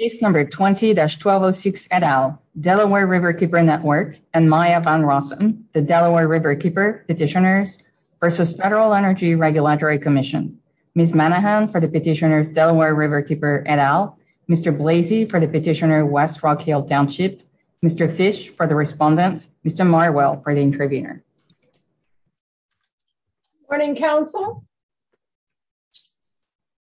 Case number 20-1206 et al, Delaware Riverkeeper Network and Maya Van Rossum, the Delaware Riverkeeper Petitioners versus Federal Energy Regulatory Commission. Ms. Manahan for the petitioners, Delaware Riverkeeper et al. Mr. Blasey for the petitioner, West Rock Hill Township. Mr. Fish for the respondent. Mr. Marwell for the interviewer. Morning, counsel.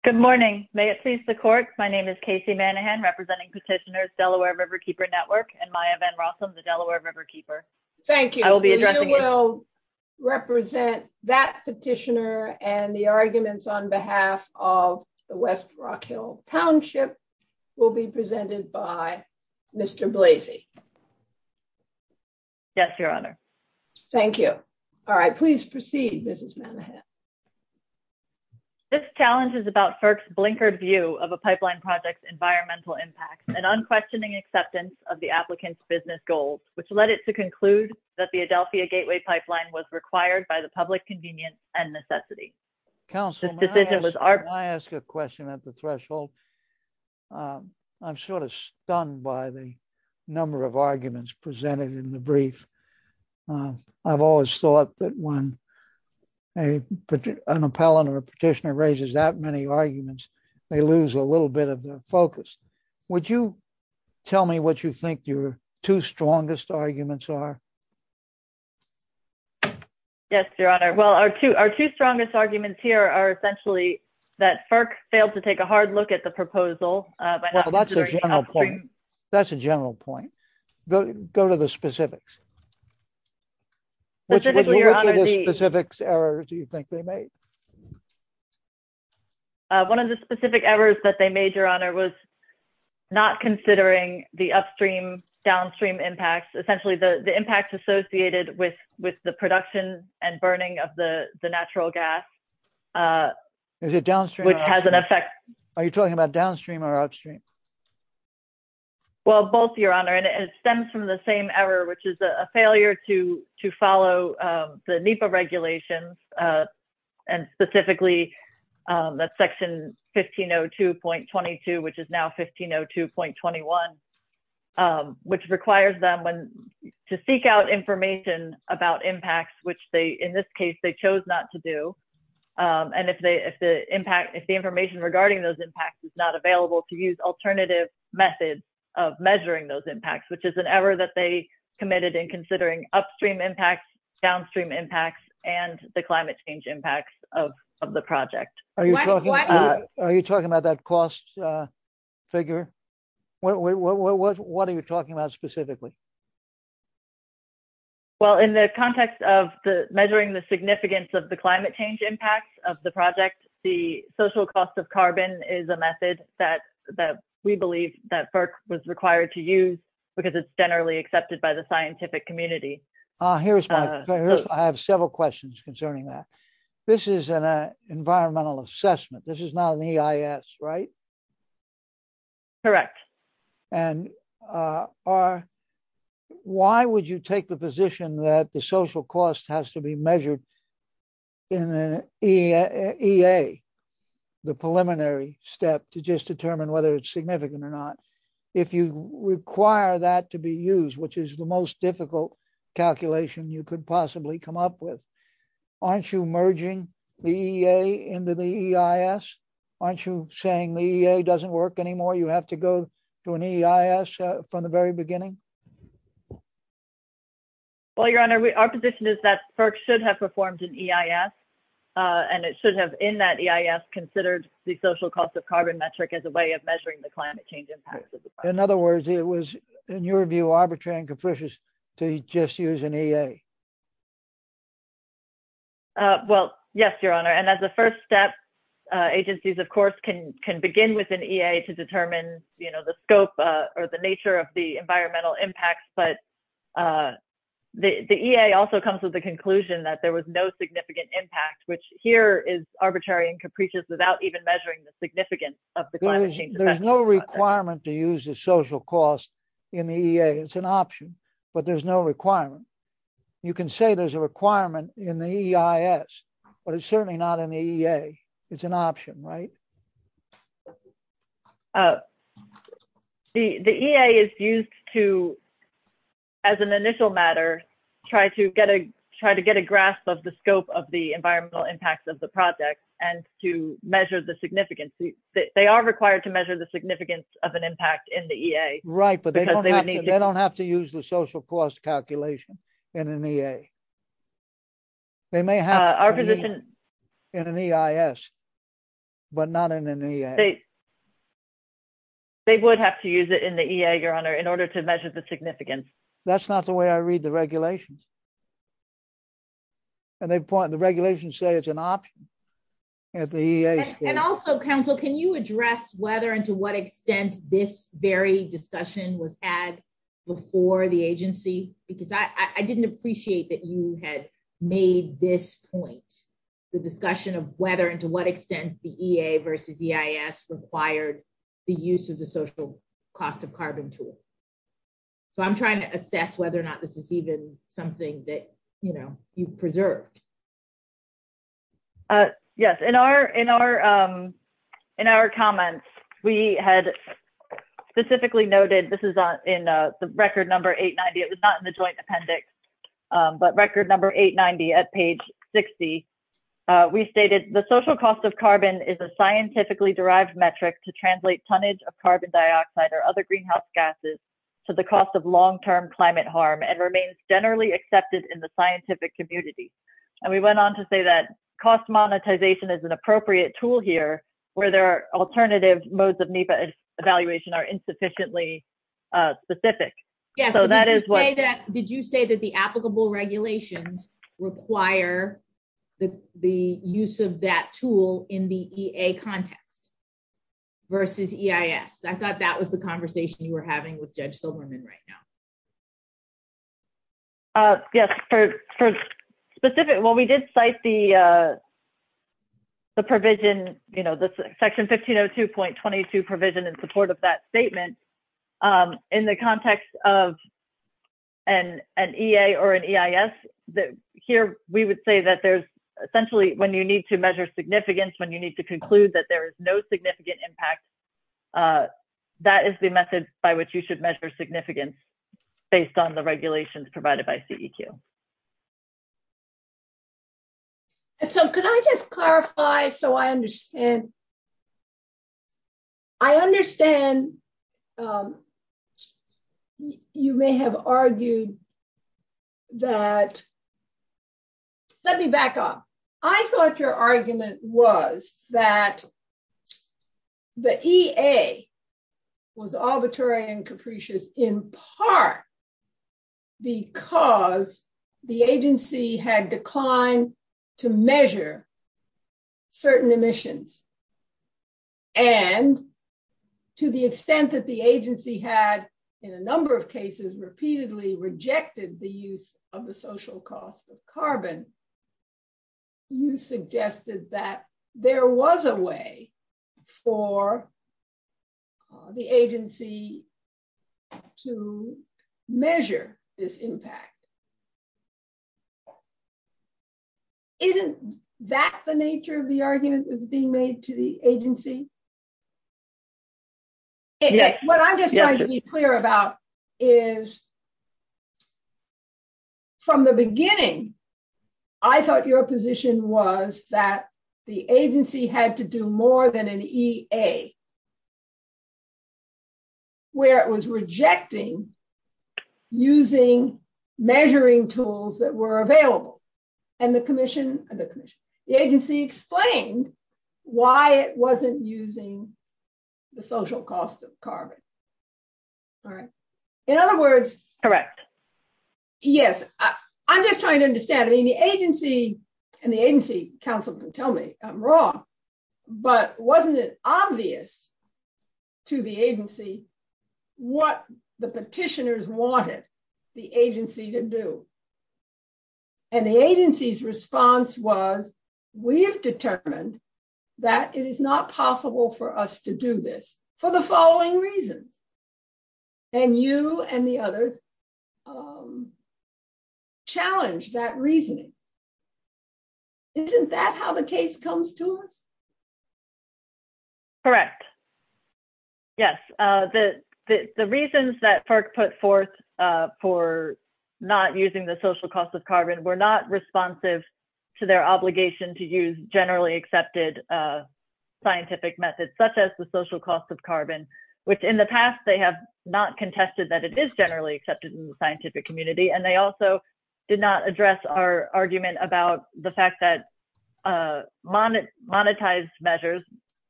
Good morning. May it please the court. My name is Casey Manahan representing petitioners, Delaware Riverkeeper Network and Maya Van Rossum, the Delaware Riverkeeper. Thank you. I will be addressing you. You will represent that petitioner and the arguments on behalf of the West Rock Hill Township will be presented by Mr. Blasey. Yes, your honor. Thank you. All right, please proceed, Ms. Manahan. This challenge is about FERC's blinkered view of a pipeline project's environmental impact and unquestioning acceptance of the applicant's business goals, which led it to conclude that the Adelphia Gateway Pipeline was required by the public convenience and necessity. Counsel, may I ask a question at the threshold? I'm sort of stunned by the number of arguments presented in the brief. I've always thought that when an appellant or a petitioner raises that many arguments, they lose a little bit of focus. Would you tell me what you think your two strongest arguments are? Yes, your honor. Well, our two strongest arguments here are essentially that FERC failed to take a hard look at the proposal. That's a general point. Go to the specifics. Which specific errors do you think they made? One of the specific errors that they made, your honor, was not considering the upstream-downstream impacts, essentially the impacts associated with the production and burning of the natural gas, which has an effect. Are you talking about downstream or upstream? Well, both, your honor, and it stems from the same error, which is a failure to follow the NEPA regulations, and specifically that section 1502.22, which is now 1502.21, which requires them to seek out information about impacts, which they, in this case, they chose not to do. And if the information regarding those impacts is not available, to use alternative methods of measuring those impacts, which is an error that they committed in considering upstream impacts, downstream impacts, and the climate change impacts of the project. Are you talking about that cost figure? What are you talking about specifically? Well, in the context of measuring the significance of the climate change impacts of the project, the social cost of carbon is a method that we believe that FERC was required to use because it's generally accepted by the scientific community. I have several questions concerning that. This is an environmental assessment. This is not an EIS, right? Correct. And why would you take the position that the social cost has to be measured in an EA, the preliminary step to just determine whether it's significant or not, if you require that to be used, which is the most difficult calculation you could possibly come up with? Aren't you merging the EA into the EIS? Aren't you saying the EA doesn't work anymore? You have to go to an EIS from the very beginning? Well, Your Honor, our position is that FERC should have performed an EIS, and it should have, in that EIS, considered the social cost of carbon metric as a way of measuring the climate change impacts of the project. In other words, it was, in your view, arbitrary and capricious to just use an EA. Well, yes, Your Honor. And as a first step, agencies, of course, can begin with an EA to determine the scope or the nature of the environmental impacts. But the EA also comes to the conclusion that there was no significant impact, which here is arbitrary and capricious without even measuring the significance of the climate change. There's no requirement to use the social cost in the EA. It's an option, but there's no requirement. You can say there's a requirement in the EIS, but it's certainly not in the EA. It's an option, right? The EA is used to, as an initial matter, try to get a grasp of the scope of the environmental impacts of the project and to measure the significance. They are required to measure the significance of an impact in the EA. They don't have to use the social cost calculation in an EA. They may have to use it in an EIS, but not in an EA. They would have to use it in the EA, Your Honor, in order to measure the significance. That's not the way I read the regulations. The regulations say it's an option. Also, counsel, can you address whether and to what extent this very discussion was had before the agency? Because I didn't appreciate that you had made this point. The discussion of whether and to what extent the EA versus EIS required the use of the social cost of carbon tool. I'm trying to assess whether or not this is even something that you've preserved. Yes, in our comments, we had specifically noted, this is in the record number 890. It's not in the joint appendix, but record number 890 at page 60. We stated, the social cost of carbon is a scientifically derived metric to translate tonnage of carbon dioxide or other greenhouse gases to the cost of long-term climate harm and remains generally accepted in the scientific community. And we went on to say that cost monetization is an appropriate tool here where there are alternative modes of NEPA evaluation are insufficiently specific. Did you say that the applicable regulations require the use of that tool in the EA context versus EIS? I thought that was the conversation you were having with Judge Silverman right now. Yes, for specific, well, we did cite the section 1502.22 provision in support of that statement. In the context of an EA or an EIS, here, we would say that there's essentially when you need to measure significance, when you need to conclude that there is no significant impact, that is the method by which you should measure significance based on the regulations provided by CEQ. So, can I just clarify so I understand? I understand you may have argued that, let me back up. I thought your argument was that the EA was arbitrary and capricious in part because the agency had declined to measure certain emissions and to the extent that the agency had, in a number of cases, repeatedly rejected the use of the social cost of carbon. You suggested that there was a way for the agency to measure this impact. Isn't that the nature of the argument that's being made to the agency? What I'm just trying to be clear about is, from the beginning, I thought your position was that the agency had to do more than an EA, where it was rejecting using measuring tools that were available. The agency explained why it wasn't using the social cost of carbon. In other words, yes, I'm just trying to understand. The agency and the agency counsel can tell me I'm wrong, but wasn't it obvious to the agency what the petitioners wanted the agency to do? And the agency's response was, we have determined that it is not possible for us to do this for the following reasons. And you and the others challenged that reasoning. Isn't that how the case comes to us? Correct. Yes, the reasons that FERC put forth for not using the social cost of carbon were not responsive to their obligation to use generally accepted scientific methods, such as the social cost of carbon, which in the past they have not contested that it is generally accepted in the scientific community. And they also did not address our argument about the fact that monetized measures,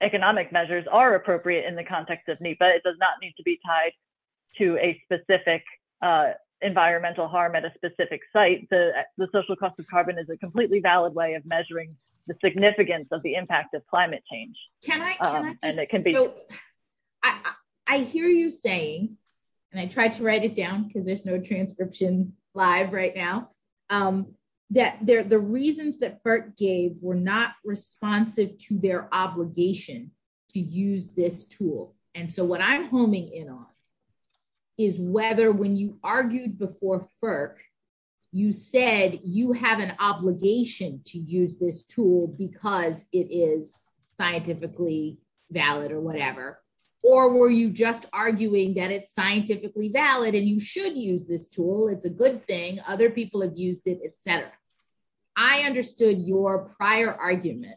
economic measures, are appropriate in the context of NEPA. It does not need to be tied to a specific environmental harm at a specific site. The social cost of carbon is a completely valid way of measuring the significance of the impact of climate change. I hear you saying, and I tried to write it down because there's no transcription live right now, that the reasons that FERC gave were not responsive to their obligation to use this tool. And so what I'm homing in on is whether when you argued before FERC, you said you have an obligation to use this tool because it is scientifically valid or whatever. Or were you just arguing that it's scientifically valid and you should use this tool, it's a good thing, other people have used it, et cetera. I understood your prior argument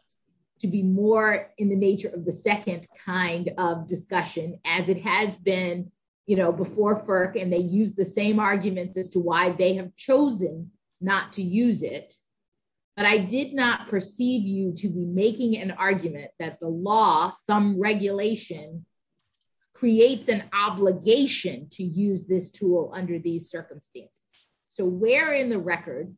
to be more in the nature of the second kind of discussion, as it has been before FERC and they use the same arguments as to why they have chosen not to use it. But I did not perceive you to be making an argument that the law, some regulation, creates an obligation to use this tool under these circumstances. So where in the record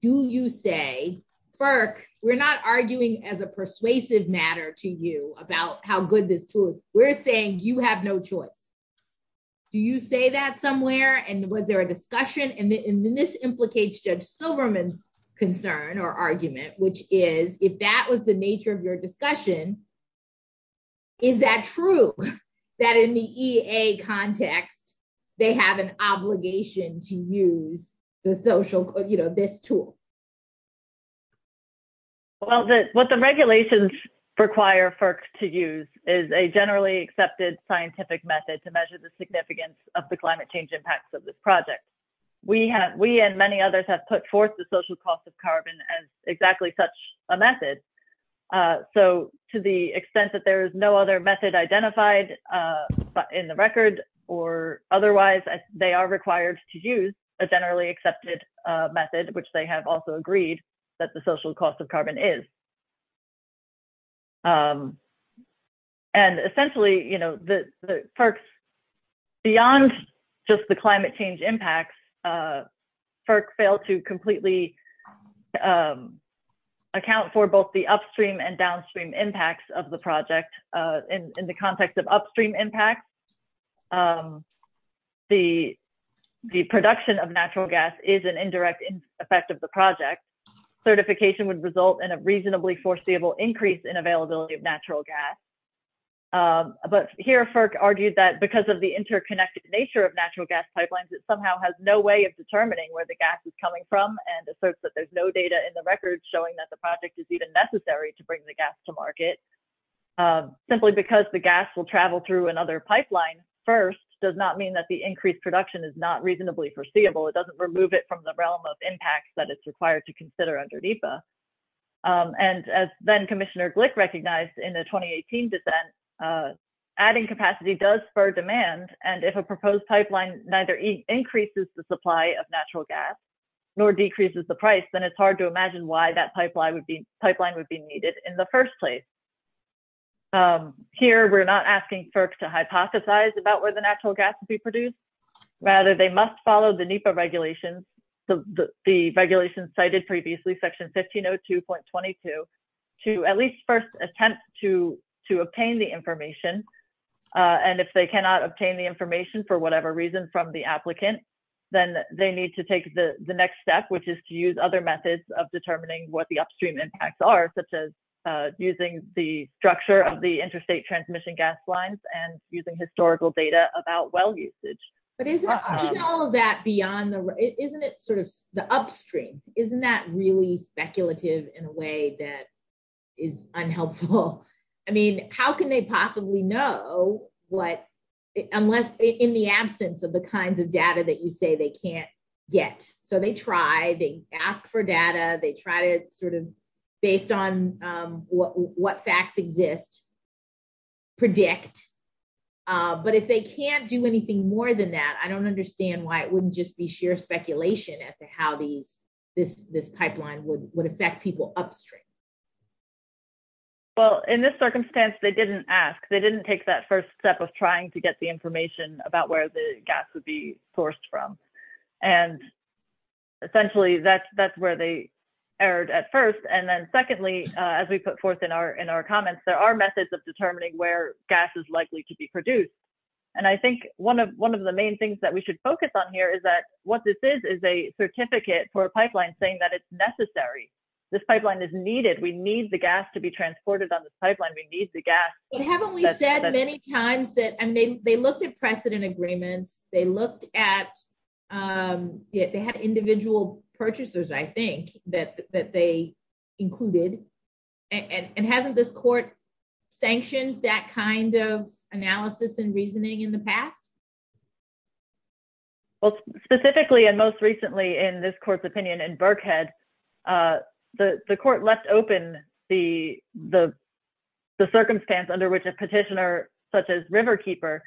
do you say, FERC, we're not arguing as a persuasive matter to you about how good this tool is. We're saying you have no choice. Do you say that somewhere and was there a discussion? And this implicates Judge Silverman's concern or argument, which is, if that was the nature of your discussion, is that true? That in the EA context, they have an obligation to use the social, you know, this tool. Well, what the regulations require for to use is a generally accepted scientific method to measure the significance of the climate change impacts of this project. We have we and many others have put forth the social cost of carbon as exactly such a method. So to the extent that there is no other method identified in the record or otherwise, they are required to use a generally accepted method, which they have also agreed that the social cost of carbon is. And essentially, you know, the first. Beyond just the climate change impacts, FERC failed to completely account for both the upstream and downstream impacts of the project in the context of upstream impact. The the production of natural gas is an indirect effect of the project. Certification would result in a reasonably foreseeable increase in availability of natural gas. But here, FERC argued that because of the interconnected nature of natural gas pipelines, it somehow has no way of determining where the gas is coming from. And asserts that there's no data in the record showing that the project is even necessary to bring the gas to market. Simply because the gas will travel through another pipeline first does not mean that the increased production is not reasonably foreseeable. It doesn't remove it from the realm of impacts that it's required to consider under NEPA. And as Commissioner Glick recognized in the 2018 dissent, adding capacity does spur demand. And if a proposed pipeline neither increases the supply of natural gas nor decreases the price, then it's hard to imagine why that pipeline would be needed in the first place. Here, we're not asking FERC to hypothesize about where the natural gas would be produced. Rather, they must follow the NEPA regulations, the regulations cited previously, Section 1502.22, to at least first attempt to obtain the information. And if they cannot obtain the information for whatever reason from the applicant, then they need to take the next step, which is to use other methods of determining what the upstream impacts are, such as using the structure of the interstate transmission gas lines and using historical data about well usage. But isn't all of that beyond the, isn't it sort of the upstream? Isn't that really speculative in a way that is unhelpful? I mean, how can they possibly know what, unless in the absence of the kinds of data that you say they can't get? So they try, they ask for data, they try to sort of, based on what facts exist, predict. But if they can't do anything more than that, I don't understand why it wouldn't just be sheer speculation as to how this pipeline would affect people upstream. Well, in this circumstance, they didn't ask. They didn't take that first step of trying to get the information about where the gas would be sourced from. And essentially that's where they erred at first. And then secondly, as we put forth in our comments, there are methods of determining where gas is likely to be produced. And I think one of the main things that we should focus on here is that what this is, is a certificate for a pipeline saying that it's necessary. This pipeline is needed. We need the gas to be transported on this pipeline. We need the gas. Well, haven't we said many times that, I mean, they looked at precedent agreements. They looked at, they had individual purchasers, I think, that they included. And haven't this court sanctioned that kind of analysis and reasoning in the past? Well, specifically, and most recently in this court's opinion in Burkhead, the court left open the circumstance under which a petitioner, such as Riverkeeper,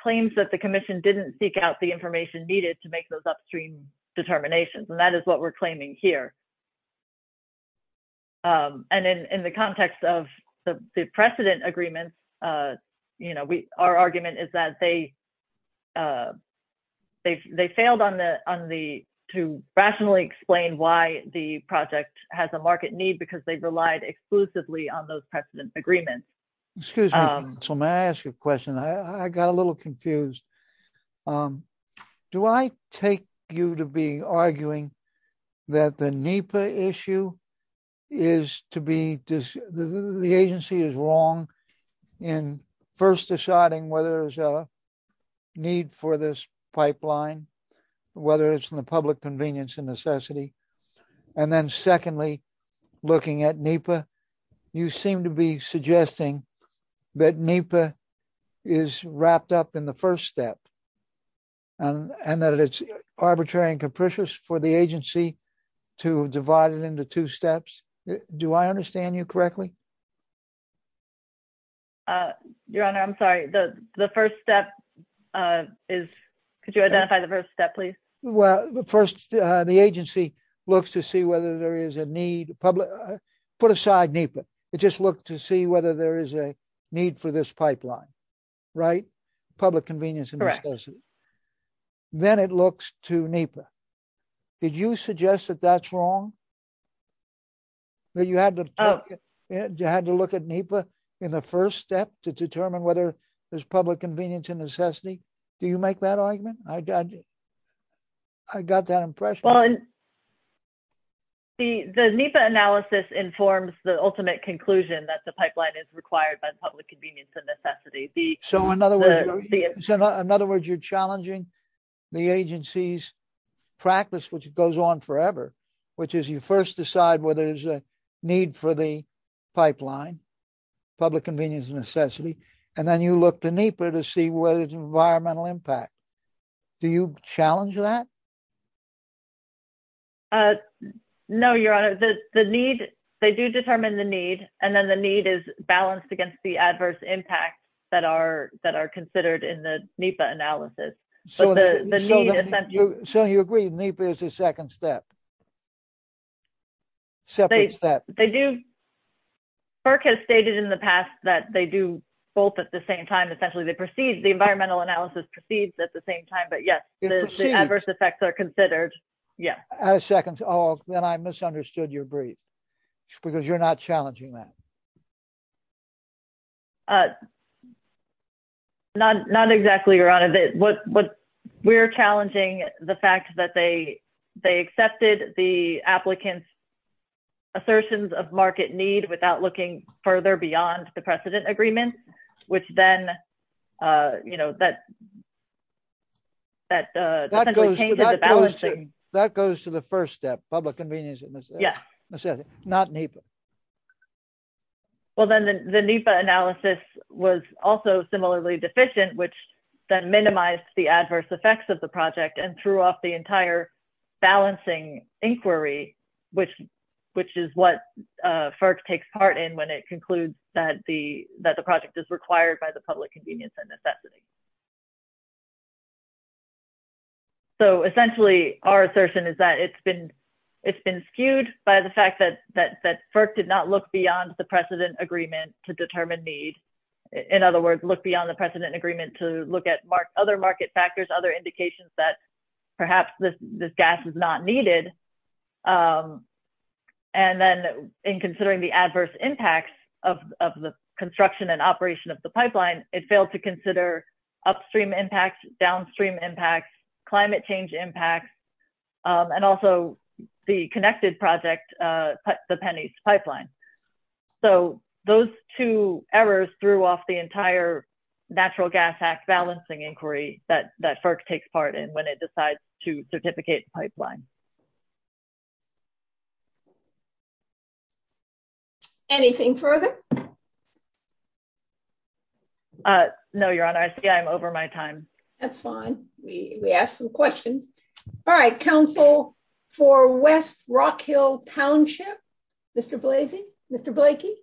claims that the commission didn't seek out the information needed to make those upstream determinations. And that is what we're claiming here. And in the context of the precedent agreement, our argument is that they failed to rationally explain why the project has a market need because they relied exclusively on those precedent agreements. Excuse me, so may I ask you a question? I got a little confused. Do I take you to be arguing that the NEPA issue is to be, the agency is wrong in first deciding whether there's a need for this pipeline, whether it's in the public convenience and necessity? And then secondly, looking at NEPA, you seem to be suggesting that NEPA is wrapped up in the first step and that it's arbitrary and capricious for the agency to divide it into two steps. Do I understand you correctly? Your Honor, I'm sorry. The first step is, could you identify the first step, please? Well, the first, the agency looks to see whether there is a need, put aside NEPA, it just looked to see whether there is a need for this pipeline, right? Public convenience and necessity. Then it looks to NEPA. Did you suggest that that's wrong? That you had to look at NEPA in the first step to determine whether there's public convenience and necessity? Do you make that argument? I got that impression. The NEPA analysis informs the ultimate conclusion that the pipeline is required by public convenience and necessity. So, in other words, you're challenging the agency's practice, which goes on forever, which is you first decide whether there's a need for the pipeline, public convenience and necessity, and then you look to NEPA to see whether there's an environmental impact. Do you challenge that? No, Your Honor. The need, they do determine the need, and then the need is balanced against the adverse impacts that are considered in the NEPA analysis. So, you agree NEPA is the second step? Second step. FERC has stated in the past that they do both at the same time. Essentially, they proceed, the environmental analysis proceeds at the same time, but yes, the adverse effects are considered. I second. Oh, then I misunderstood your brief, because you're not challenging that. Not exactly, Your Honor. We're challenging the fact that they accepted the applicant's assertions of market need without looking further beyond the precedent agreement, which then, you know, that essentially changes the balance. That goes to the first step, public convenience and necessity, not NEPA. Well, then the NEPA analysis was also similarly deficient, which then minimized the adverse effects of the project and threw off the entire balancing inquiry, which is what FERC takes part in when it concludes that the project is required by the public convenience and necessity. So, essentially, our assertion is that it's been skewed by the fact that FERC did not look beyond the precedent agreement to determine need. In other words, look beyond the precedent agreement to look at other market factors, other indications that perhaps this gas is not needed. And then, in considering the adverse impacts of the construction and operation of the pipeline, it failed to consider upstream impacts, downstream impacts, climate change impacts, and also the connected project, the Pennies Pipeline. So, those two errors threw off the entire Natural Gas Act balancing inquiry that FERC takes part in when it decides to certificate the pipeline. Anything further? No, Your Honor. I see I'm over my time. That's fine. We asked some questions. All right, counsel for West Rock Hill Township, Mr. Blasey? Mr. Blakey?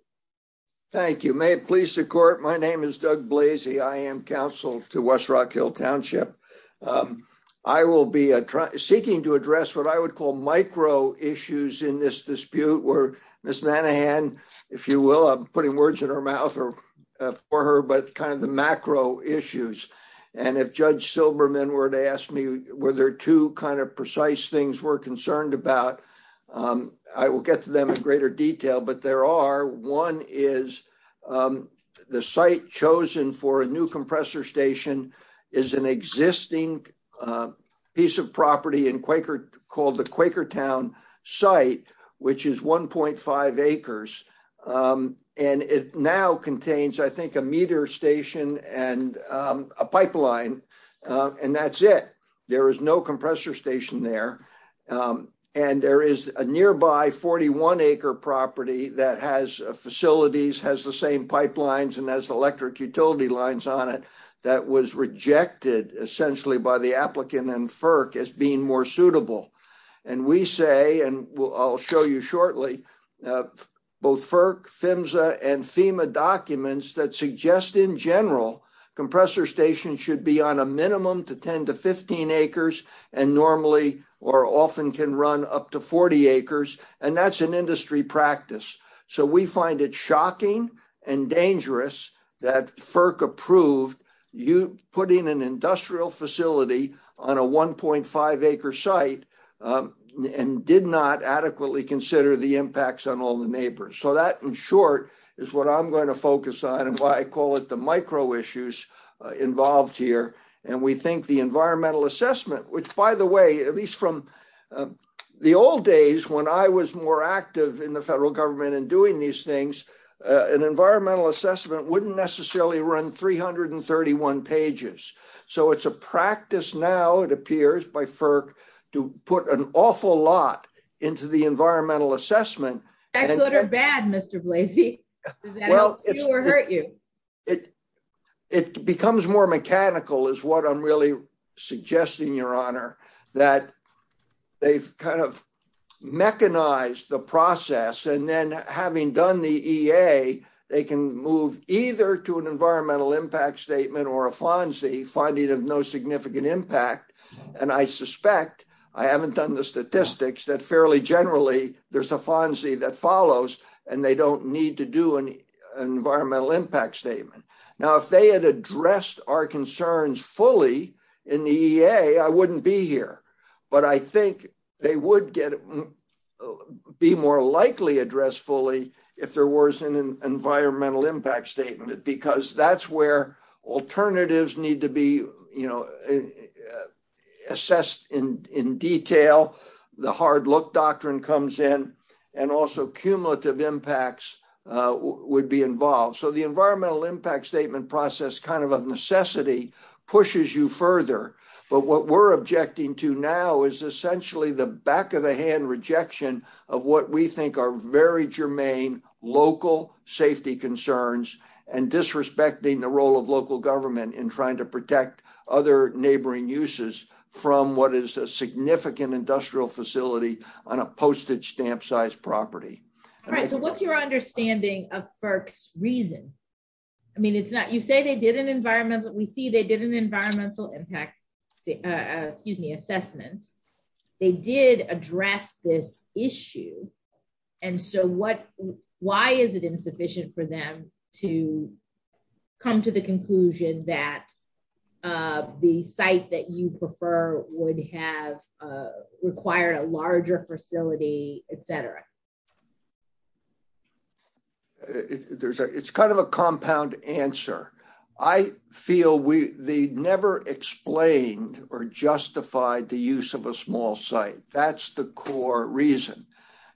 Thank you. May it please the court, my name is Doug Blasey. I am counsel to West Rock Hill Township. I will be seeking to address what I would call micro issues in this dispute where Ms. Nanahan, if you will, I'm putting words in her mouth for her, but kind of the macro issues. And if Judge Silberman were to ask me were there two kind of precise things we're concerned about, I will get to them in greater detail. But there are, one is the site chosen for a new compressor station is an existing piece of property in Quaker, called the Quaker Town site, which is 1.5 acres. And it now contains, I think, a meter station and a pipeline. And that's it. There is no compressor station there. And there is a nearby 41-acre property that has facilities, has the same pipelines, and has electric utility lines on it that was rejected, essentially, by the applicant and FERC as being more suitable. And we say, and I'll show you shortly, both FERC, PHMSA, and FEMA documents that suggest, in general, compressor stations should be on a minimum to 10 to 15 acres, and normally or often can run up to 40 acres, and that's an industry practice. So we find it shocking and dangerous that FERC approved putting an industrial facility on a 1.5-acre site and did not adequately consider the impacts on all the neighbors. So that, in short, is what I'm going to focus on and why I call it the micro-issues involved here. And we think the environmental assessment, which, by the way, at least from the old days, when I was more active in the federal government in doing these things, an environmental assessment wouldn't necessarily run 331 pages. So it's a practice now, it appears, by FERC to put an awful lot into the environmental assessment. That's good or bad, Mr. Blasey. Well, it's... It will hurt you. It becomes more mechanical, is what I'm really suggesting, Your Honor, that they've kind of mechanized the process, and then having done the EA, they can move either to an environmental impact statement or a FONSI, finding there's no significant impact. And I suspect, I haven't done the statistics, that fairly generally there's a FONSI that follows, and they don't need to do an environmental impact statement. Now, if they had addressed our concerns fully in the EA, I wouldn't be here. But I think they would be more likely addressed fully if there was an environmental impact statement, because that's where alternatives need to be assessed in detail, the hard-look doctrine comes in, and also cumulative impacts would be involved. So the environmental impact statement process, kind of a necessity, pushes you further. But what we're objecting to now is essentially the back-of-the-hand rejection of what we think are very germane local safety concerns, and disrespecting the role of local government in trying to protect other neighboring uses from what is a significant industrial facility on a postage stamp-sized property. All right, so what's your understanding of FERC's reason? I mean, it's not, you say they did an environmental, we see they did an environmental impact, excuse me, assessment. They did address this issue, and so what, why is it insufficient for them to come to the conclusion that the site that you prefer would have, require a larger facility, et cetera? It's kind of a compound answer. I feel they never explained or justified the use of a small site. That's the core reason.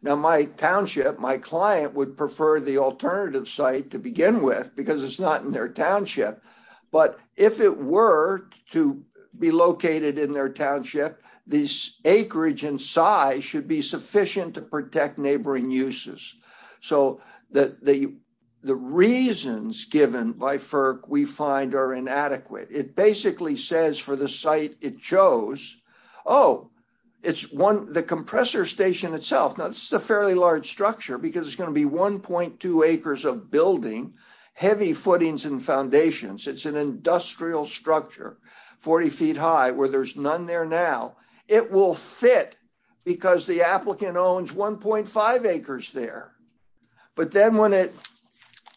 Now my township, my client would prefer the alternative site to begin with, because it's not in their township. But if it were to be located in their township, this acreage and size should be sufficient to protect neighboring uses. So the reasons given by FERC we find are inadequate. It basically says for the site it chose, oh, it's one, the compressor station itself, now this is a fairly large structure, because it's going to be 1.2 acres of building, heavy footings and foundations. It's an industrial structure, 40 feet high, where there's none there now. It will fit, because the applicant owns 1.5 acres there. But then when it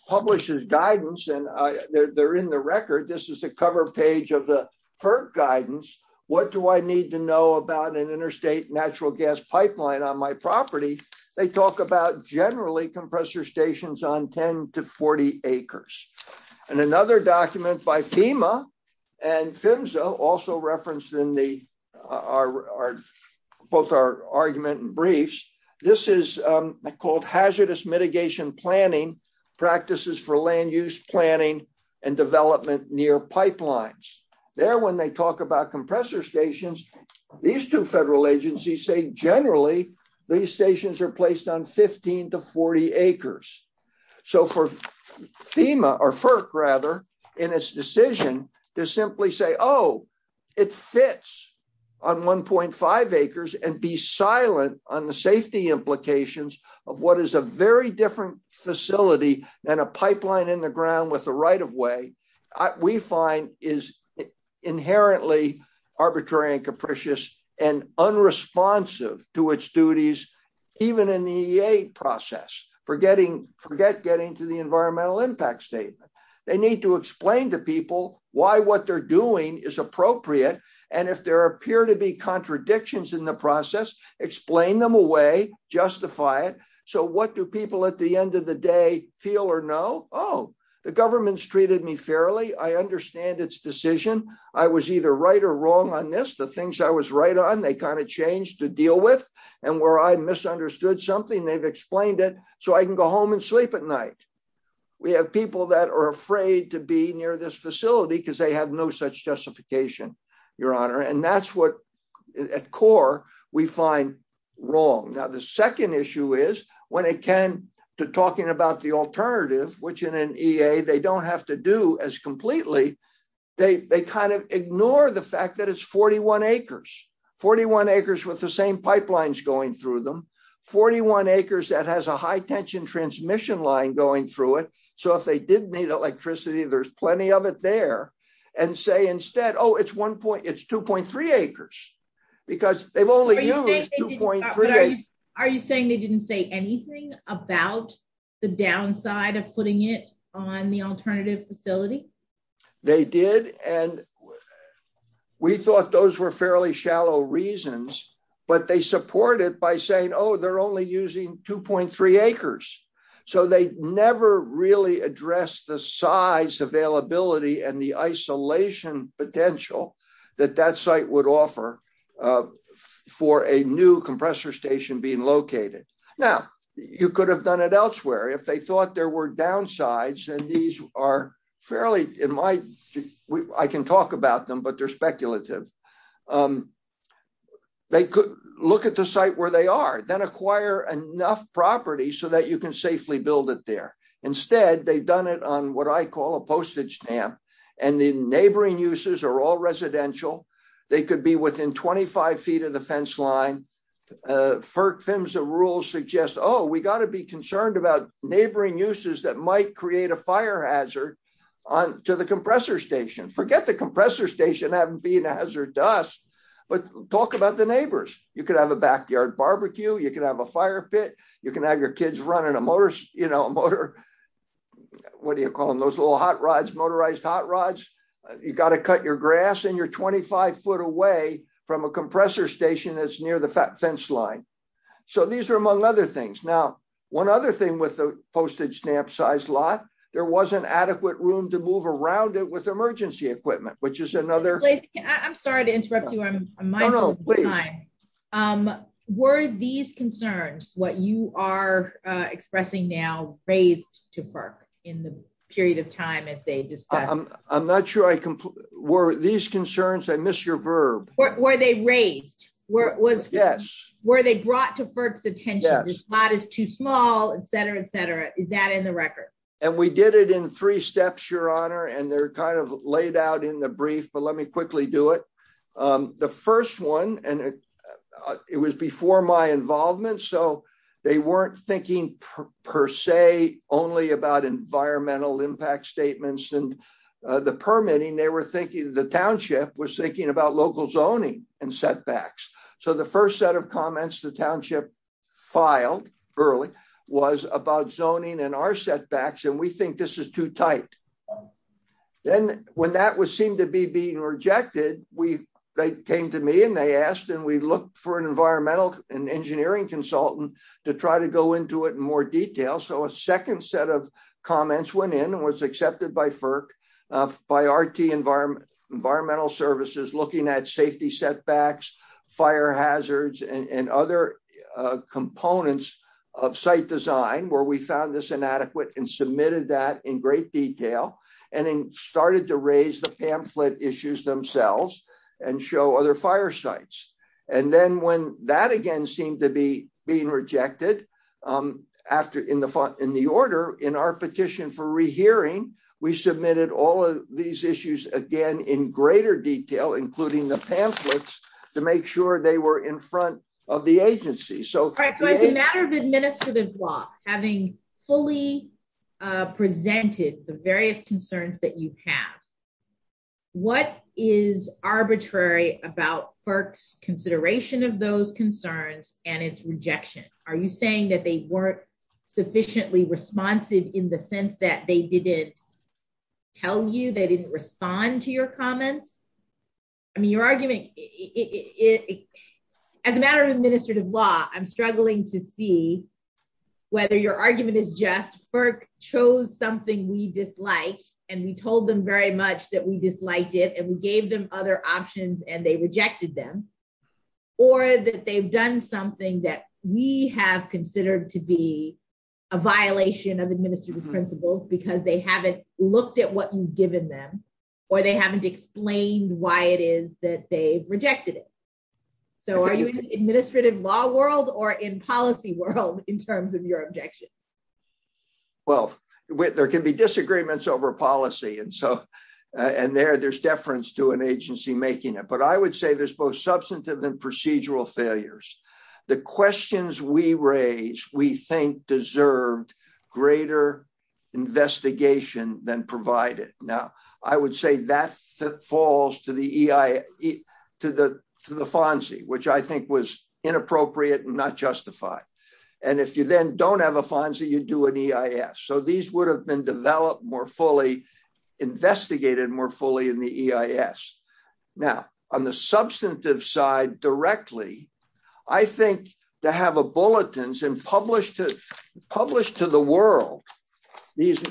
publishes guidance, and they're in the record, this is the cover page of the FERC guidance, what do I need to know about an interstate natural gas pipeline on my property? They talk about generally compressor stations on 10 to 40 acres. And another document by FEMA and PHMSA, also referenced in both our argument and briefs, this is called hazardous mitigation planning practices for land use planning and development near pipelines. There when they talk about compressor stations, these two federal agencies say generally these stations are placed on 15 to 40 acres. So for FEMA, or FERC rather, in its decision to simply say, oh, it fits on 1.5 acres and be silent on the safety implications of what is a very different facility than a pipeline in the ground with a right-of-way, we find is inherently arbitrary and capricious and unresponsive to its duties, even in the EA process. Forget getting to the environmental impact statement. They need to explain to people why what they're doing is appropriate, and if there appear to be contradictions in the process, explain them away, justify it. So what do people at the end of the day feel or know? Oh, the government's treated me fairly. I understand its decision. I was either right or wrong on this. The things I was right on, they kind of changed to deal with. And where I misunderstood something, they've explained it so I can go home and sleep at night. We have people that are afraid to be near this facility because they have no such justification, Your Honor, and that's what at core we find wrong. Now, the second issue is when it came to talking about the alternative, which in an EA they don't have to do as completely, they kind of ignore the fact that it's 41 acres. 41 acres with the same pipelines going through them. 41 acres that has a high-tension transmission line going through it, so if they did need electricity, there's plenty of it there. And say instead, oh, it's 2.3 acres because they've only used 2.3 acres. Are you saying they didn't say anything about the downside of putting it on the alternative facility? They did, and we thought those were fairly shallow reasons, but they supported it by saying, oh, they're only using 2.3 acres. So they never really addressed the size availability and the isolation potential that that site would offer for a new compressor station being located. Now, you could have done it elsewhere. If they thought there were downsides, and these are fairly, I can talk about them, but they're speculative, they could look at the site where they are, then acquire enough property so that you can safely build it there. Instead, they've done it on what I call a postage stamp, and the neighboring uses are all residential. They could be within 25 feet of the fence line. FERC FEMSA rules suggest, oh, we've got to be concerned about neighboring uses that might create a fire hazard to the compressor station. Forget the compressor station being a hazard to us, but talk about the neighbors. You could have a backyard barbecue. You could have a fire pit. You can have your kids running a motor, what do you call them, those little hot rods, motorized hot rods. You've got to cut your grass, and you're 25 foot away from a compressor station that's near the fence line. So these are among other things. Now, one other thing with the postage stamp size lot, there wasn't adequate room to move around it with emergency equipment, which is another... I'm sorry to interrupt you. No, no, please. Were these concerns, what you are expressing now, raised to FERC in the period of time that they discussed? I'm not sure I can... Were these concerns... I missed your verb. Were they raised? Yes. Were they brought to FERC's attention? Yes. This lot is too small, et cetera, et cetera. Is that in the record? And we did it in three steps, Your Honor, and they're kind of laid out in the brief, but let me quickly do it. The first one, and it was before my involvement, so they weren't thinking per se only about environmental impact statements and the permitting. They were thinking, the township was thinking about local zoning and setbacks. So the first set of comments the township filed early was about zoning and our setbacks, and we think this is too tight. Then when that seemed to be being rejected, they came to me and they asked, and we looked for an environmental and engineering consultant to try to go into it in more detail. So a second set of comments went in and was accepted by FERC, by RT Environmental Services, looking at safety setbacks, fire hazards, and other components of site design, where we found this inadequate and submitted that in great detail, and then started to raise the pamphlet issues themselves and show other fire sites. And then when that again seemed to be being rejected in the order, in our petition for rehearing, we submitted all of these issues again in greater detail, including the pamphlets, to make sure they were in front of the agency. So as a matter of administrative law, having fully presented the various concerns that you have, what is arbitrary about FERC's consideration of those concerns and its rejection? Are you saying that they weren't sufficiently responsive in the sense that they didn't tell you, they didn't respond to your comments? I mean, your argument, as a matter of administrative law, I'm struggling to see whether your argument is just FERC chose something we disliked and we told them very much that we disliked it and we gave them other options and they rejected them, or that they've done something that we have considered to be a violation of administrative principles because they haven't looked at what you've given them, or they haven't explained why it is that they rejected it. So are you in the administrative law world or in policy world in terms of your objections? Well, there can be disagreements over policy, and there's deference to an agency making it. But I would say there's both substantive and procedural failures. The questions we raise we think deserved greater investigation than provided. Now, I would say that falls to the FONSI, which I think was inappropriate and not justified. And if you then don't have a FONSI, you do an EIS. So these would have been developed more fully, investigated more fully in the EIS. Now, on the substantive side directly, I think to have a bulletins and publish to the world these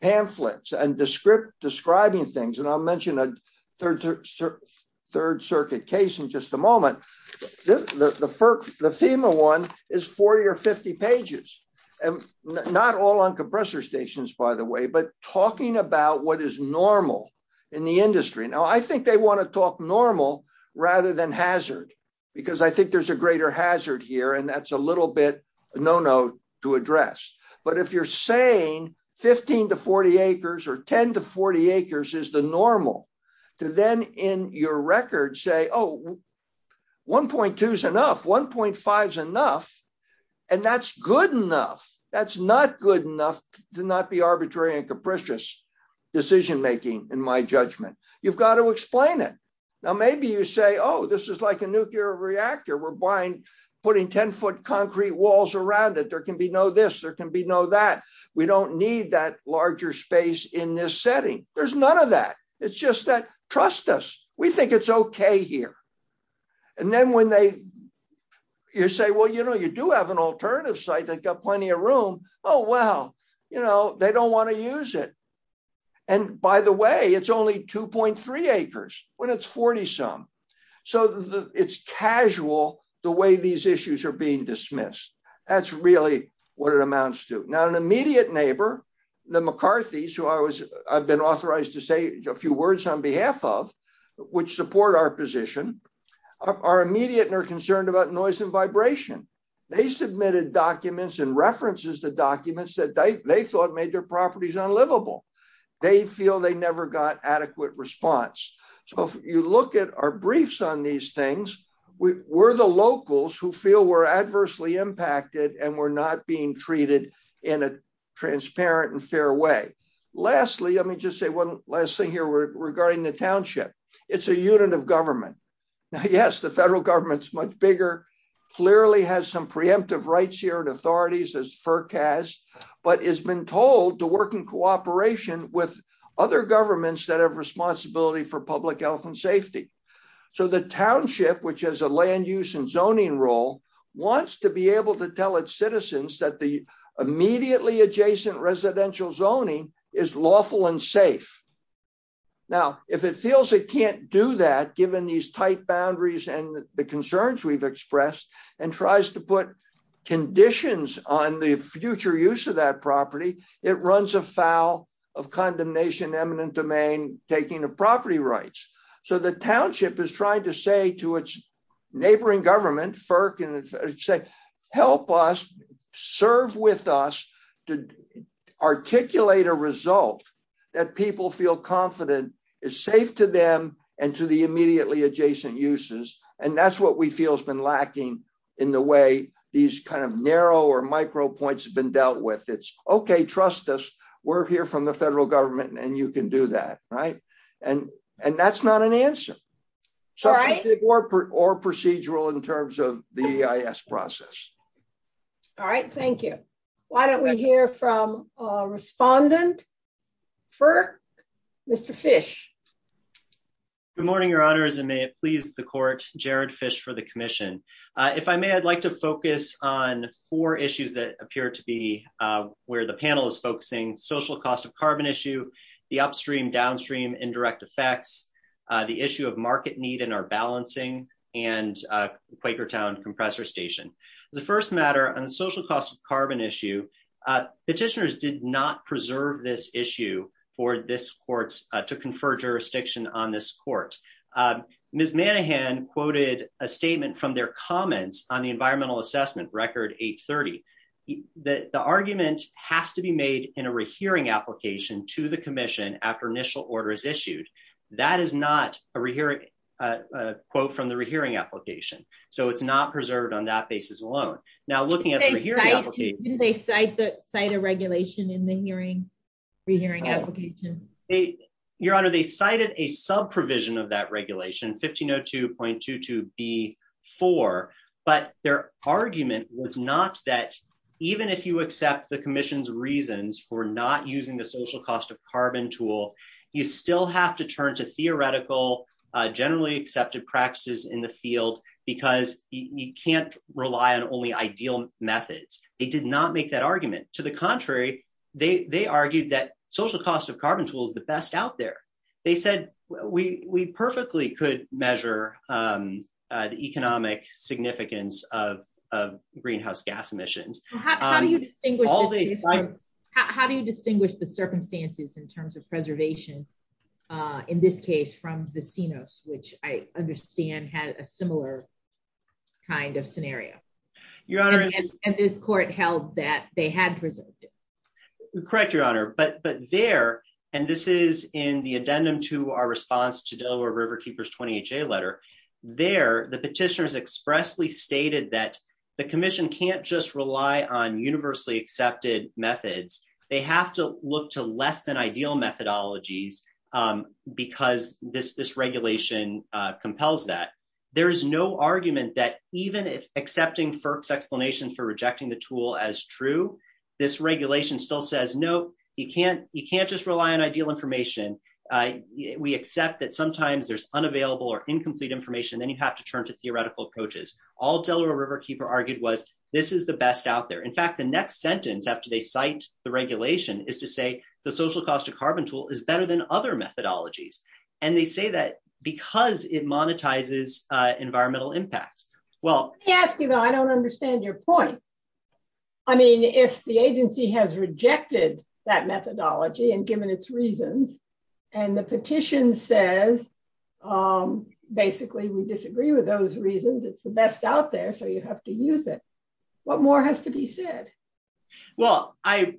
pamphlets and describing things, and I'll mention a Third Circuit case in just a moment, the FEMA one is 40 or 50 pages. Not all on compressor stations, by the way, but talking about what is normal in the industry. Now, I think they want to talk normal rather than hazard, because I think there's a greater hazard here, and that's a little bit a no-no to address. But if you're saying 15 to 40 acres or 10 to 40 acres is the normal, to then in your record say, oh, 1.2 is enough, 1.5 is enough, and that's good enough. That's not good enough to not be arbitrary and capricious decision-making in my judgment. You've got to explain it. Now, maybe you say, oh, this is like a nuclear reactor. We're putting 10-foot concrete walls around it. There can be no this. There can be no that. We don't need that larger space in this setting. There's none of that. It's just that trust us. We think it's OK here. And then when you say, well, you do have an alternative site that's got plenty of room. Oh, well, they don't want to use it. And by the way, it's only 2.3 acres when it's 40-some. So it's casual the way these issues are being dismissed. That's really what it amounts to. Now, an immediate neighbor, the McCarthys, who I've been authorized to say a few words on behalf of, which support our position, are immediate and are concerned about noise and vibration. They submitted documents and references to documents that they thought made their properties unlivable. They feel they never got adequate response. So if you look at our briefs on these things, we're the locals who feel we're adversely impacted and we're not being treated in a transparent and fair way. Lastly, let me just say one last thing here regarding the township. It's a unit of government. Yes, the federal government's much bigger. Clearly has some preemptive rights here and authorities as forecast, but has been told to work in cooperation with other governments that have responsibility for public health and safety. So the township, which has a land use and zoning role, wants to be able to tell its citizens that the immediately adjacent residential zoning is lawful and safe. Now, if it feels it can't do that, given these tight boundaries and the concerns we've expressed, and tries to put conditions on the future use of that property, it runs afoul of condemnation, eminent domain, taking the property rights. So the township is trying to say to its neighboring government, FERC, help us, serve with us to articulate a result that people feel confident is safe to them and to the immediately adjacent uses. And that's what we feel has been lacking in the way these kind of narrow or micro points have been dealt with. It's okay, trust us. We're here from the federal government and you can do that. And that's not an answer. Or procedural in terms of the EIS process. All right. Thank you. Why don't we hear from a respondent? FERC? Mr. Fish? Good morning, your honors, and may it please the court, Jared Fish for the commission. If I may, I'd like to focus on four issues that appear to be where the panel is focusing, social cost of carbon issue, the upstream downstream indirect effects, the issue of market need and our balancing, and Quakertown compressor station. The first matter on social cost of carbon issue, petitioners did not preserve this issue for this court to confer jurisdiction on this court. Ms. Manahan quoted a statement from their comments on the environmental assessment record 830. The argument has to be made in a rehearing application to the commission after initial orders issued. That is not a quote from the rehearing application. So it's not preserved on that basis alone. Now, looking at the hearing application. Did they cite a regulation in the hearing application? Your honor, they cited a sub provision of that regulation, 1502.22B4. But their argument was not that even if you accept the commission's reasons for not using the social cost of carbon tool, you still have to turn to theoretical generally accepted practices in the field because you can't rely on only ideal methods. They did not make that argument. To the contrary, they argued that social cost of carbon tool is the best out there. They said we perfectly could measure the economic significance of greenhouse gas emissions. How do you distinguish the circumstances in terms of preservation in this case from the Sinos, which I understand had a similar kind of scenario? And this court held that they had preserved it. Correct, your honor. But there, and this is in the addendum to our response to Delaware River Keepers 20HA letter. There, the petitioners expressly stated that the commission can't just rely on universally accepted methods. They have to look to less than ideal methodologies because this regulation compels that. There is no argument that even if accepting FERC's explanation for rejecting the tool as true, this regulation still says, no, you can't just rely on ideal information. We accept that sometimes there's unavailable or incomplete information. Then you have to turn to theoretical approaches. All Delaware River Keeper argued was this is the best out there. In fact, the next sentence after they cite the regulation is to say the social cost of carbon tool is better than other methodologies. And they say that because it monetizes environmental impacts. Well, I don't understand your point. I mean, if the agency has rejected that methodology and given its reasons, and the petition says, basically, we disagree with those reasons. It's the best out there. So you have to use it. What more has to be said? Well, I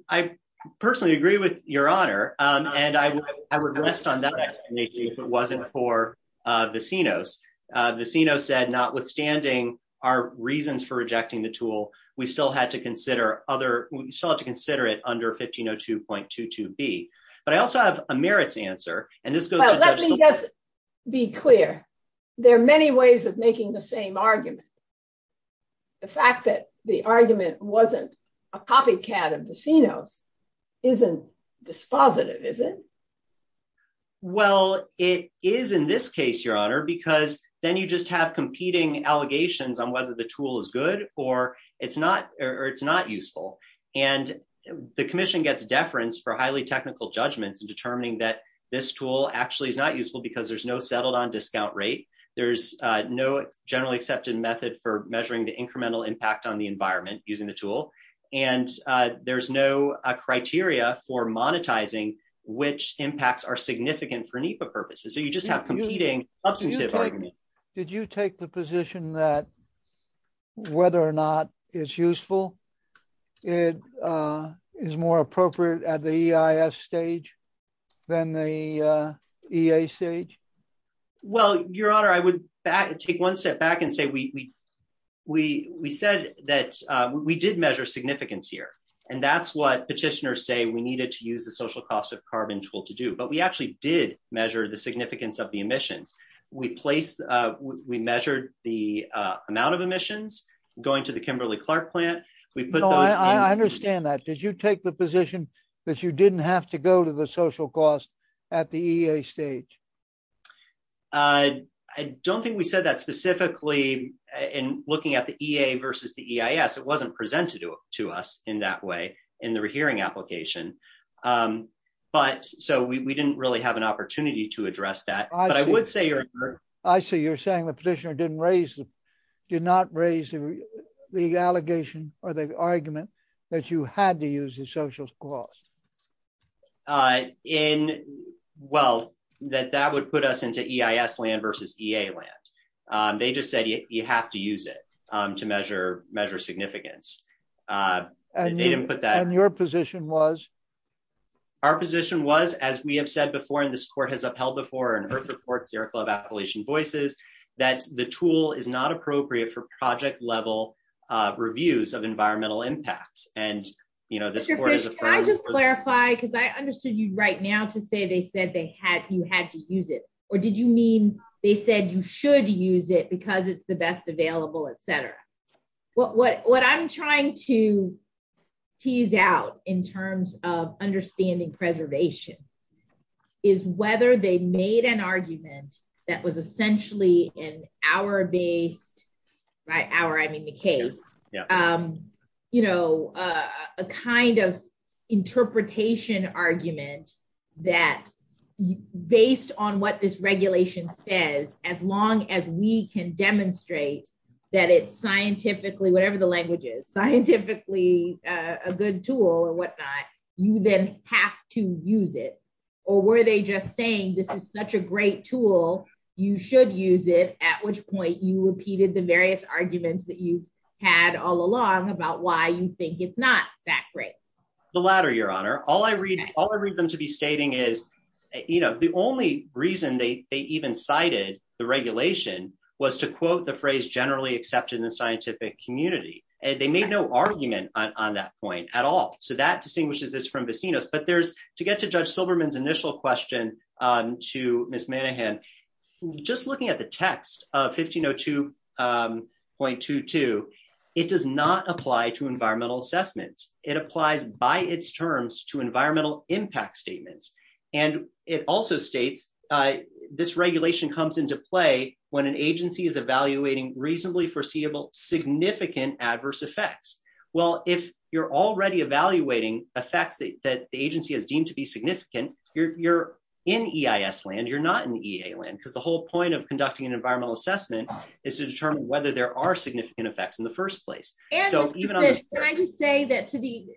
personally agree with your honor. And I would rest on that explanation if it wasn't for Vecino's. Vecino said notwithstanding our reasons for rejecting the tool, we still have to consider it under 1502.22b. But I also have a merits answer. Let me just be clear. There are many ways of making the same argument. The fact that the argument wasn't a copycat of Vecino isn't dispositive, is it? Well, it is in this case, your honor, because then you just have competing allegations on whether the tool is good or it's not or it's not useful. And the commission gets deference for highly technical judgments in determining that this tool actually is not useful because there's no settled on discount rate. There's no generally accepted method for measuring the incremental impact on the environment using the tool. And there's no criteria for monetizing which impacts are significant for NEPA purposes. So you just have competing substantive arguments. Did you take the position that whether or not it's useful is more appropriate at the EIS stage than the EA stage? Well, your honor, I would take one step back and say we said that we did measure significance here. And that's what petitioners say we needed to use the social cost of carbon tool to do. But we actually did measure the significance of the emission. We placed we measured the amount of emissions going to the Kimberly-Clark plant. I understand that. Did you take the position that you didn't have to go to the social cost at the EA stage? I don't think we said that specifically in looking at the EA versus the EIS. It wasn't presented to us in that way in the hearing application. But so we didn't really have an opportunity to address that. I see you're saying the petitioner did not raise the allegation or the argument that you had to use the social cost. Well, that would put us into EIS land versus EA land. They just said you have to use it to measure significance. And your position was? Our position was, as we have said before, and this court has upheld before in her support, Sarah Club Appalachian Voices, that the tool is not appropriate for project level reviews of environmental impact. And, you know, this is where I just clarify, because I understood you right now to say they said they had you had to use it. Or did you mean they said you should use it because it's the best available, et cetera? What I'm trying to tease out in terms of understanding preservation. Is whether they made an argument that was essentially an hour of a hour, I mean, the case, you know, a kind of interpretation argument that based on what this regulation says, as long as we can demonstrate that it's scientifically, whatever the language is, scientifically a good tool or whatnot. You then have to use it. Or were they just saying this is such a great tool. You should use it. At which point you repeated the various arguments that you had all along about why you think it's not that great. The latter, your honor. All I read, all I read them to be stating is, you know, the only reason they even cited the regulation was to quote the phrase generally accepted in the scientific community. And they made no argument on that point at all. So that distinguishes this from Bacinos. But there's to get to Judge Silberman's initial question to Ms. Manahan, just looking at the text of 1502.22, it does not apply to environmental assessments. It applies by its terms to environmental impact statements. And it also states this regulation comes into play when an agency is evaluating reasonably foreseeable significant adverse effects. Well, if you're already evaluating a fact that the agency is deemed to be significant, you're in EIS land. You're not in EIS land because the whole point of conducting an environmental assessment is to determine whether there are significant effects in the first place. So even I would say that to be.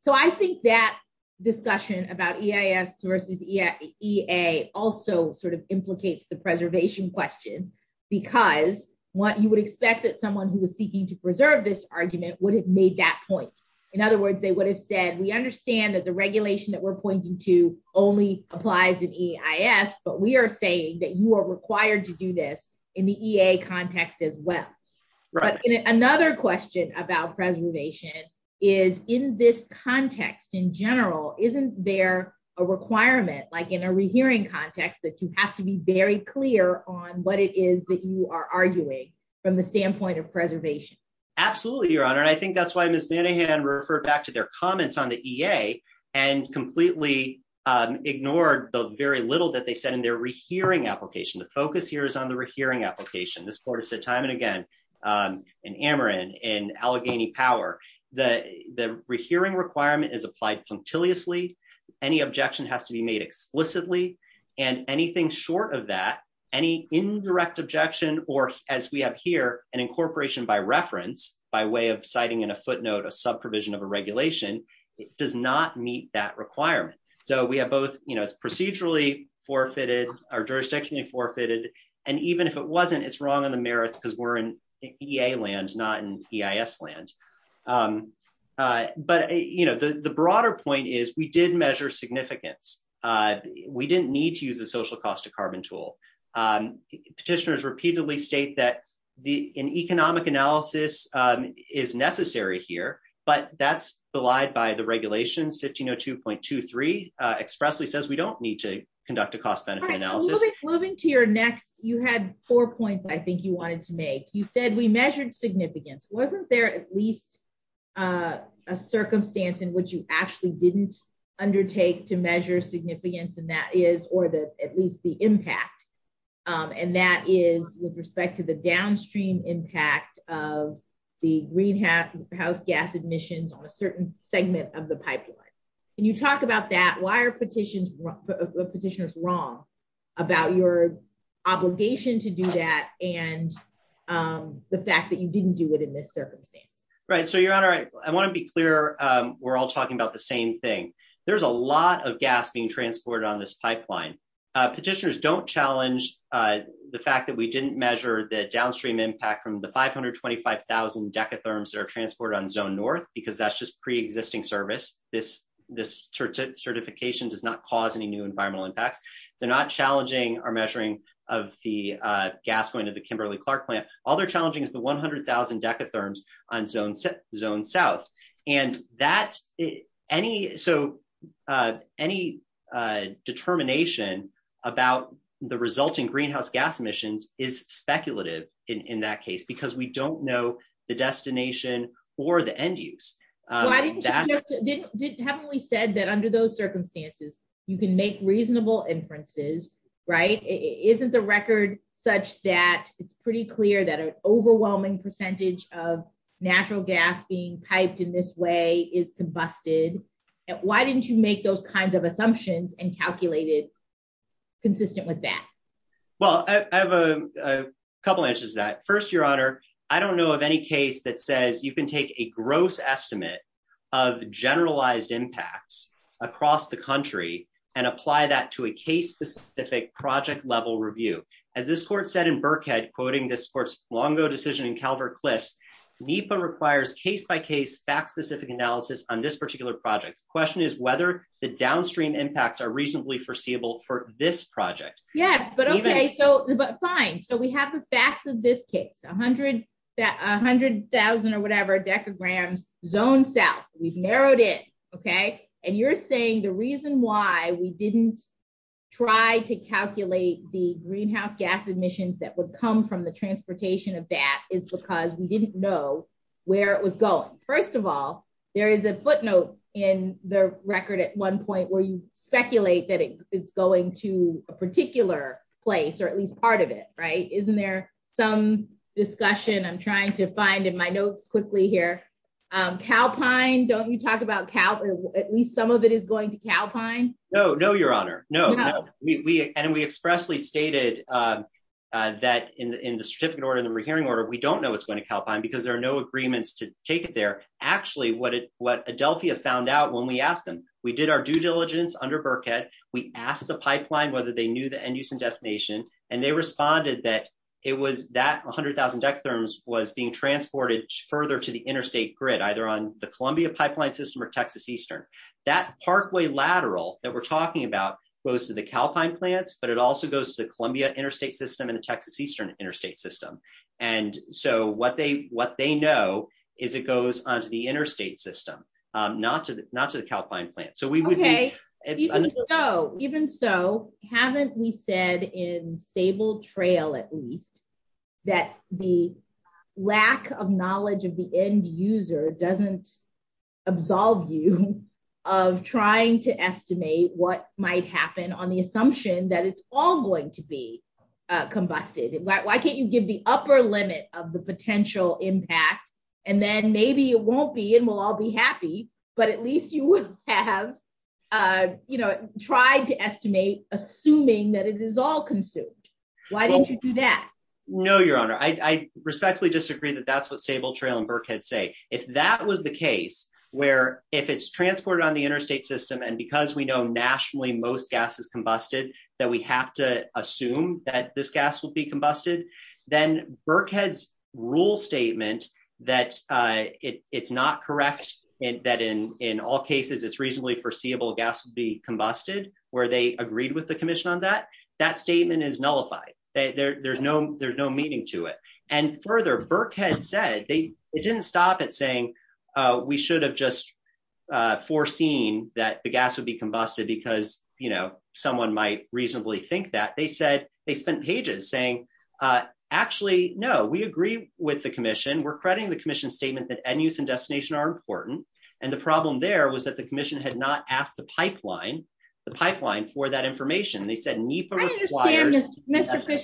So I think that discussion about EIS versus EIA also sort of implicates the preservation question, because what you would expect that someone who was seeking to preserve this argument would have made that point. In other words, they would have said, we understand that the regulation that we're pointing to only applies in EIS, but we are saying that you are required to do this in the EIA context as well. Another question about preservation is in this context in general, isn't there a requirement, like in a rehearing context, that you have to be very clear on what it is that you are arguing from the standpoint of preservation? Absolutely, Your Honor. And I think that's why Ms. Manahan referred back to their comments on the EA and completely ignored the very little that they said in their rehearing application. The focus here is on the rehearing application. This court has said time and again in Ameren, in Allegheny Power, that the rehearing requirement is applied punctiliously. Any objection has to be made explicitly and anything short of that, any indirect objection, or as we have here, an incorporation by reference, by way of citing in a footnote a subprovision of a regulation, does not meet that requirement. So we have both procedurally forfeited or jurisdictionally forfeited. And even if it wasn't, it's wrong on Ameren because we're in EA land, not in EIS land. But the broader point is we did measure significance. We didn't need to use a social cost of carbon tool. Petitioners repeatedly state that an economic analysis is necessary here, but that's belied by the regulations. 1502.23 expressly says we don't need to conduct a cost benefit analysis. Moving to your next, you had four points I think you wanted to make. You said we measured significance. Wasn't there at least a circumstance in which you actually didn't undertake to measure significance, or at least the impact, and that is with respect to the downstream impact of the greenhouse gas emissions on a certain segment of the pipeline. Can you talk about that? Why are petitioners wrong about your obligation to do that and the fact that you didn't do it in this circumstance? Right. So, Your Honor, I want to be clear. We're all talking about the same thing. There's a lot of gas being transported on this pipeline. Petitioners don't challenge the fact that we didn't measure the downstream impact from the 525,000 decatherms that are transported on Zone North because that's just pre-existing service. This certification does not cause any new environmental impact. They're not challenging our measuring of the gas point of the Kimberly-Clark plant. All they're challenging is the 100,000 decatherms on Zone South. Any determination about the resulting greenhouse gas emissions is speculative in that case because we don't know the destination or the end use. You heavily said that under those circumstances, you can make reasonable inferences, right? Isn't the record such that it's pretty clear that an overwhelming percentage of natural gas being piped in this way is combusted? Why didn't you make those kinds of assumptions and calculate it consistent with that? Well, I have a couple answers to that. First, Your Honor, I don't know of any case that says you can take a gross estimate of generalized impacts across the country and apply that to a case-specific project-level review. As this court said in Burkhead, quoting this court's long-ago decision in Calvert-Cliff, NEPA requires case-by-case, fact-specific analysis on this particular project. The question is whether the downstream impacts are reasonably foreseeable for this project. Yes, but okay. Fine. So we have the facts of this case, 100,000 or whatever decatherms Zone South. We've narrowed it. And you're saying the reason why we didn't try to calculate the greenhouse gas emissions that would come from the transportation of that is because we didn't know where it was going. First of all, there is a footnote in the record at one point where you speculate that it is going to a particular place or at least part of it, right? Isn't there some discussion I'm trying to find in my notes quickly here? Calpine, don't we talk about Cal, at least some of it is going to Calpine? No, no, Your Honor. No. And we expressly stated that in the certificate order, in the hearing order, we don't know it's going to Calpine because there are no agreements to take it there. Actually, what Adelphia found out when we asked them, we did our due diligence under Burkhead. We asked the pipeline whether they knew the end-use and destination, and they responded that it was that 100,000 decatherms was being transported further to the interstate grid, either on the Columbia pipeline system or Texas Eastern. That parkway lateral that we're talking about goes to the Calpine plants, but it also goes to the Columbia interstate system and the Texas Eastern interstate system. And so what they know is it goes onto the interstate system, not to the Calpine plant. Okay. Even so, haven't we said in stable trail, at least, that the lack of knowledge of the end-user doesn't absolve you of trying to estimate what might happen on the assumption that it's all going to be combusted? Why can't you give the upper limit of the potential impact, and then maybe it won't be and we'll all be happy, but at least you wouldn't have tried to estimate assuming that it is all consumed. Why don't you do that? No, Your Honor. I respectfully disagree that that's what stable trail and Burkhead say. If that was the case, where if it's transported on the interstate system, and because we know nationally most gas is combusted, that we have to assume that this gas will be combusted, then Burkhead's rule statement that it's not correct that in all cases it's reasonably foreseeable gas will be combusted, where they agreed with the commission on that, that statement is nullified. There's no meaning to it. And further, Burkhead said, they didn't stop at saying, we should have just foreseen that the gas would be combusted because someone might reasonably think that. They said, they spent pages saying, actually, no, we agree with the commission. We're crediting the commission statement that end use and destination are important. And the problem there was that the commission had not asked the pipeline, the pipeline for that information. I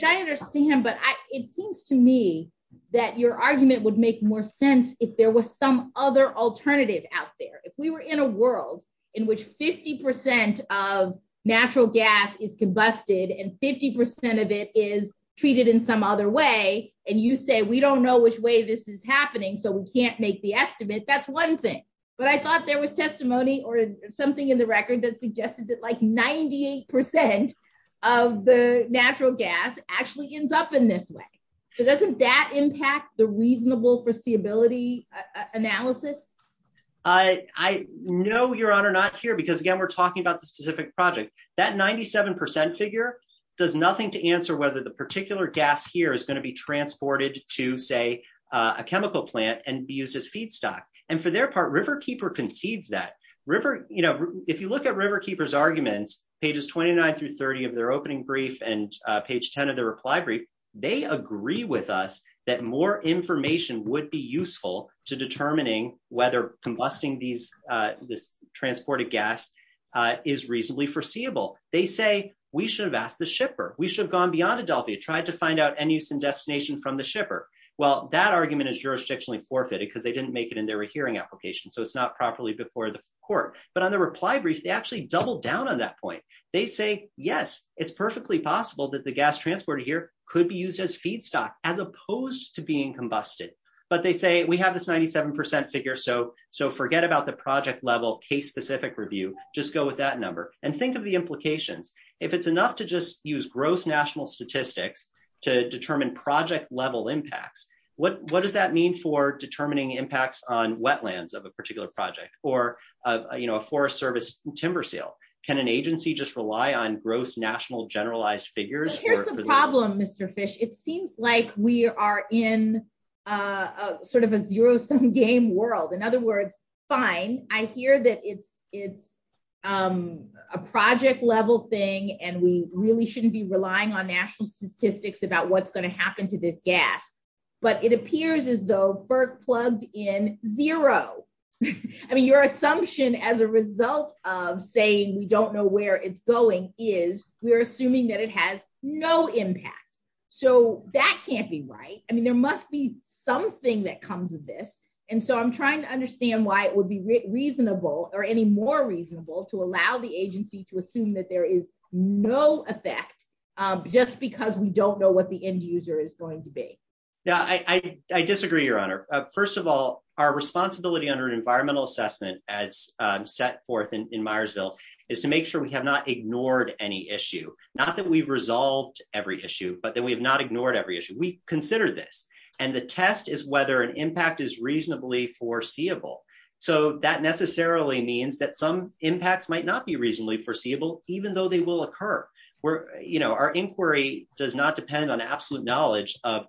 understand, but it seems to me that your argument would make more sense if there was some other alternative out there. If we were in a world in which 50% of natural gas is combusted and 50% of it is treated in some other way. And you say, we don't know which way this is happening, so we can't make the estimate. That's one thing. But I thought there was testimony or something in the record that suggested that like 98% of the natural gas actually ends up in this way. So doesn't that impact the reasonable foreseeability analysis? I know, Your Honor, not here because, again, we're talking about the specific project. That 97% figure does nothing to answer whether the particular gas here is going to be transported to, say, a chemical plant and be used as feedstock. And for their part, Riverkeeper concedes that. If you look at Riverkeeper's arguments, pages 29 through 30 of their opening brief and page 10 of their reply brief, they agree with us that more information would be useful to determining whether combusting this transported gas is reasonably foreseeable. They say, we should have asked the shipper. We should have gone beyond Adelphia, tried to find out any use and destination from the shipper. Well, that argument is jurisdictionally forfeited because they didn't make it into a hearing application, so it's not properly before the court. But on the reply brief, they actually doubled down on that point. They say, yes, it's perfectly possible that the gas transported here could be used as feedstock as opposed to being combusted. But they say, we have this 97% figure, so forget about the project level case-specific review. Just go with that number. And think of the implication. If it's enough to just use gross national statistics to determine project level impacts, what does that mean for determining impacts on wetlands of a particular project or a forest service timber sale? Can an agency just rely on gross national generalized figures? Here's the problem, Mr. Fish. It seems like we are in sort of a zero-sum game world. In other words, fine, I hear that it's a project level thing and we really shouldn't be relying on national statistics about what's going to happen to this gas. But it appears as though FERC plugged in zero. I mean, your assumption as a result of saying we don't know where it's going is we're assuming that it has no impact. So that can't be right. I mean, there must be something that comes with this. And so I'm trying to understand why it would be reasonable or any more reasonable to allow the agency to assume that there is no effect just because we don't know what the end user is going to be. Yeah, I disagree, Your Honor. First of all, our responsibility under environmental assessment as set forth in Myersville is to make sure we have not ignored any issue. Not that we've resolved every issue, but that we have not ignored every issue. We considered this. And the test is whether an impact is reasonably foreseeable. So that necessarily means that some impacts might not be reasonably foreseeable, even though they will occur. Our inquiry does not depend on absolute knowledge of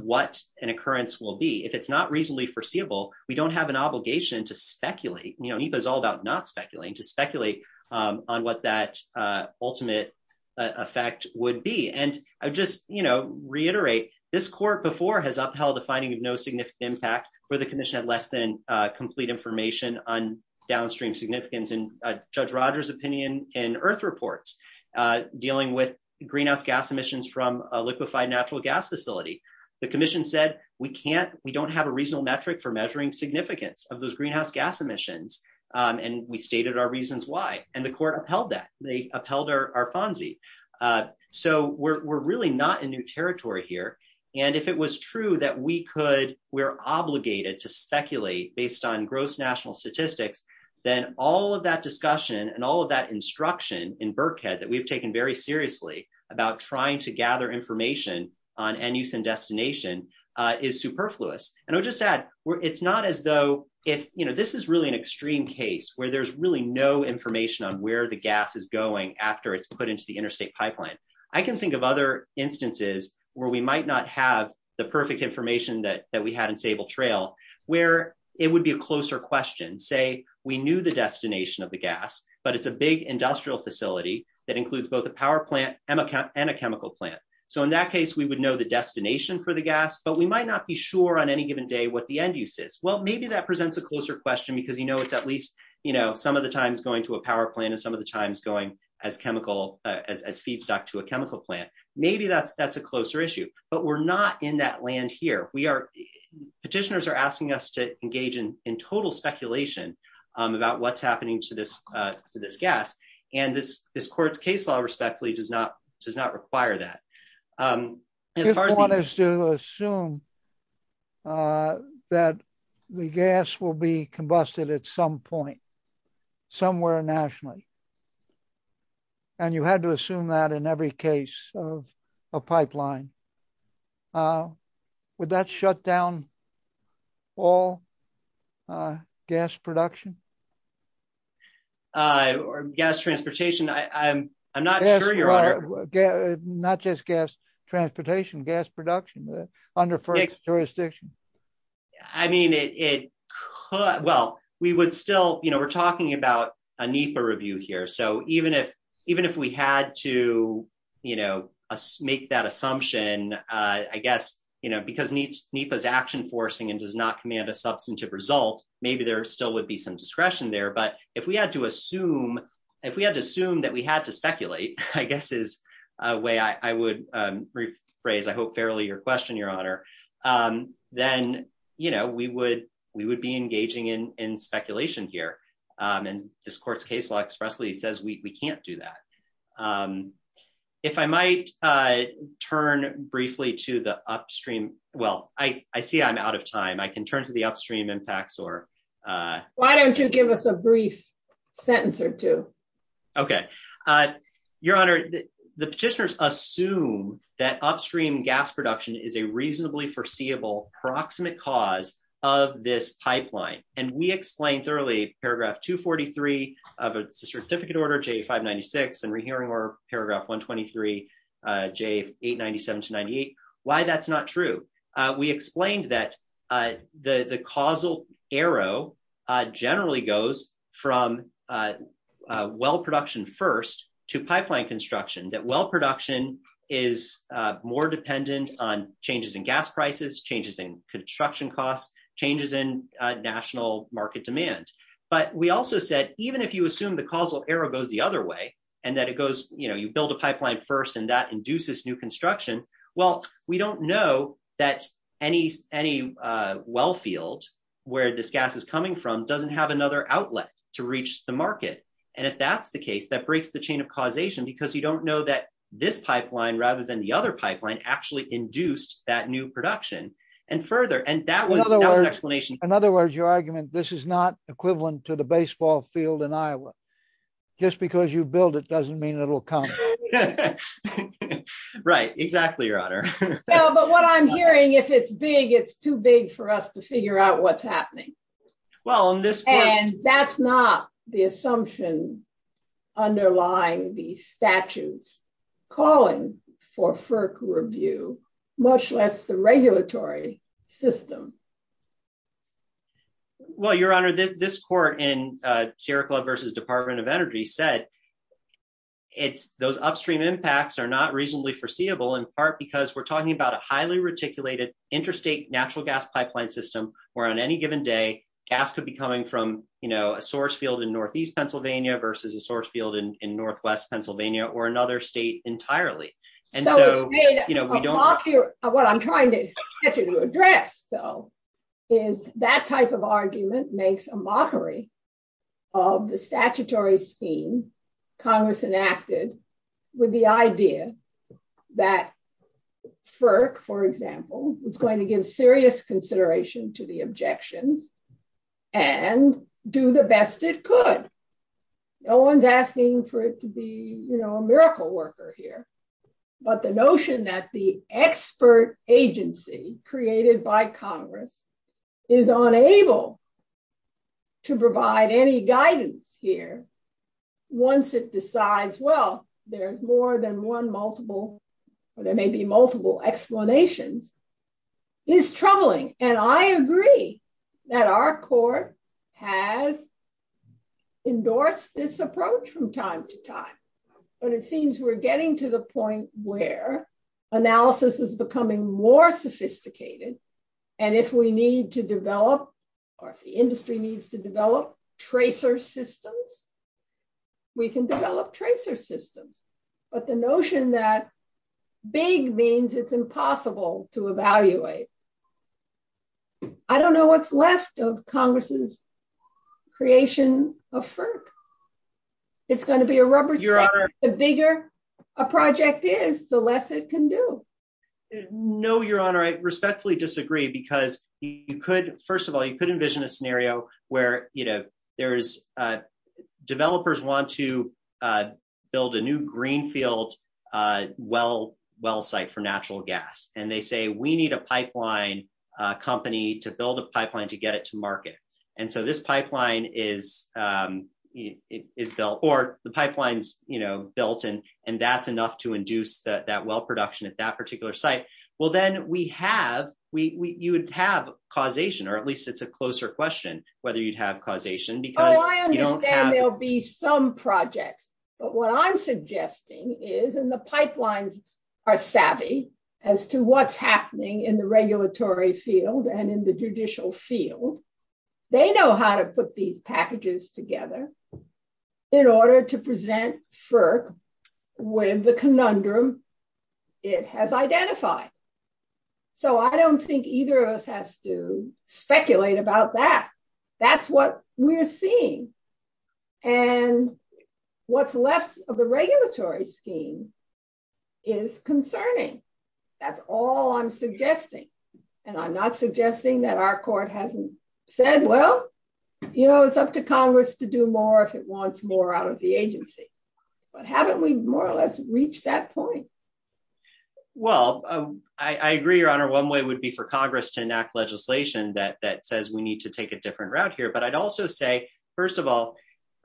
what an occurrence will be. If it's not reasonably foreseeable, we don't have an obligation to speculate. EPA is all about not speculating, to speculate on what that ultimate effect would be. And I just reiterate, this court before has upheld a finding of no significant impact where the commission had less than complete information on downstream significance. And Judge Rogers' opinion in IRF reports dealing with greenhouse gas emissions from a liquefied natural gas facility, the commission said we don't have a reasonable metric for measuring significance of those greenhouse gas emissions. And we stated our reasons why. And the court upheld that. They upheld our FONSI. So we're really not in new territory here. And if it was true that we could, we're obligated to speculate based on gross national statistics, then all of that discussion and all of that instruction in Birkhead that we've taken very seriously about trying to gather information on end use and destination is superfluous. And I'll just add, it's not as though if, you know, this is really an extreme case where there's really no information on where the gas is going after it's put into the interstate pipeline. I can think of other instances where we might not have the perfect information that we had in Sable Trail, where it would be a closer question. Say we knew the destination of the gas, but it's a big industrial facility that includes both a power plant and a chemical plant. So in that case, we would know the destination for the gas, but we might not be sure on any given day what the end use is. Well, maybe that presents a closer question because, you know, it's at least, you know, some of the times going to a power plant and some of the times going as chemical, as feedstock to a chemical plant. Maybe that's a closer issue, but we're not in that land here. Petitioners are asking us to engage in total speculation about what's happening to this gas. And this court's case law respectfully does not require that. If one is to assume that the gas will be combusted at some point, somewhere nationally, and you had to assume that in every case of a pipeline, would that shut down all gas production? Or gas transportation? I'm not sure, Your Honor. Not just gas transportation, gas production under first jurisdiction. I mean, it could, well, we would still, you know, we're talking about a NEPA review here. So even if we had to, you know, make that assumption, I guess, you know, because NEPA is action forcing and does not command a substantive result, maybe there still would be some discretion there. But if we had to assume that we had to speculate, I guess is a way I would rephrase, I hope, fairly your question, Your Honor, then, you know, we would be engaging in speculation here. And this court's case law expressly says we can't do that. If I might turn briefly to the upstream, well, I see I'm out of time. I can turn to the upstream impacts or... Why don't you give us a brief sentence or two? Okay. Your Honor, the petitioners assume that upstream gas production is a reasonably foreseeable proximate cause of this pipeline. And we explained thoroughly paragraph 243 of a certificate order, J596, and we're hearing paragraph 123, J897-98, why that's not true. We explained that the causal arrow generally goes from well production first to pipeline construction, that well production is more dependent on changes in gas prices, changes in construction costs, changes in national market demand. But we also said, even if you assume the causal arrow goes the other way, and that it goes, you know, you build a pipeline first, and that induces new construction, well, we don't know that any well field where this gas is coming from doesn't have another outlet to reach the market. And if that's the case, that breaks the chain of causation, because we don't know that this pipeline, rather than the other pipeline, actually induced that new production. In other words, your argument, this is not equivalent to the baseball field in Iowa. Just because you build it doesn't mean it'll come. Right, exactly, Your Honor. Well, but what I'm hearing, if it's big, it's too big for us to figure out what's happening. Well, in this case... And that's not the assumption underlying the statutes calling for FERC review, much less the regulatory system. Well, Your Honor, this court in Sierra Club versus Department of Energy said, those upstream impacts are not reasonably foreseeable, in part because we're talking about a highly reticulated interstate natural gas pipeline system, where on any given day, gas could be coming from, you know, a source field in northeast Pennsylvania versus a source field in northwest Pennsylvania, or another state entirely. What I'm trying to address, though, is that type of argument makes a mockery of the statutory scheme Congress enacted with the idea that FERC, for example, is going to give serious consideration to the objection and do the best it could. No one's asking for it to be, you know, a miracle worker here, but the notion that the expert agency created by Congress is unable to provide any guidance here, once it decides, well, there's more than one multiple, or there may be multiple explanations, is troubling. And I agree that our court has endorsed this approach from time to time, but it seems we're getting to the point where analysis is becoming more sophisticated, and if we need to develop, or if the industry needs to develop, tracer systems, we can develop tracer systems. But the notion that big means it's impossible to evaluate. I don't know what's left of Congress's creation of FERC. It's going to be a rubber jam. The bigger a project is, the less it can do. No, Your Honor, I respectfully disagree, because you could, first of all, you could envision a scenario where, you know, developers want to build a new greenfield well site for natural gas, and they say, we need a pipeline company to build a pipeline to get it to market. And so this pipeline is built, or the pipeline is, you know, built, and that's enough to induce that well production at that particular site. Well, then we have, you would have causation, or at least it's a closer question, whether you'd have causation. Oh, I understand there'll be some projects, but what I'm suggesting is, and the pipelines are savvy as to what's happening in the regulatory field and in the judicial field. They know how to put these packages together in order to present FERC with the conundrum it has identified. So I don't think either of us has to speculate about that. That's what we're seeing. And what's left of the regulatory scheme is concerning. That's all I'm suggesting. And I'm not suggesting that our court hasn't said, well, you know, it's up to Congress to do more if it wants more out of the agency. But haven't we more or less reached that point? Well, I agree, Your Honor, one way would be for Congress to enact legislation that says we need to take a different route here. But I'd also say, first of all,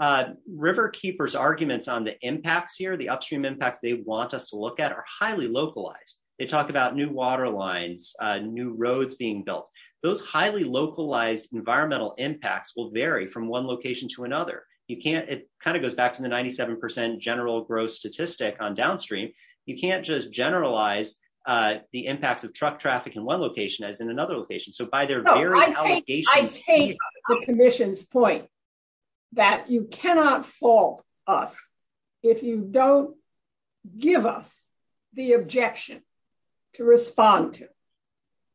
Riverkeeper's arguments on the impacts here, the upstream impact they want us to look at are highly localized. They talk about new water lines, new roads being built. Those highly localized environmental impacts will vary from one location to another. You can't, it kind of goes back to the 97% general growth statistic on downstream. You can't just generalize the impact of truck traffic in one location as in another location. So by their very allocation. I take the commission's point that you cannot fault us if you don't give us the objection to respond to.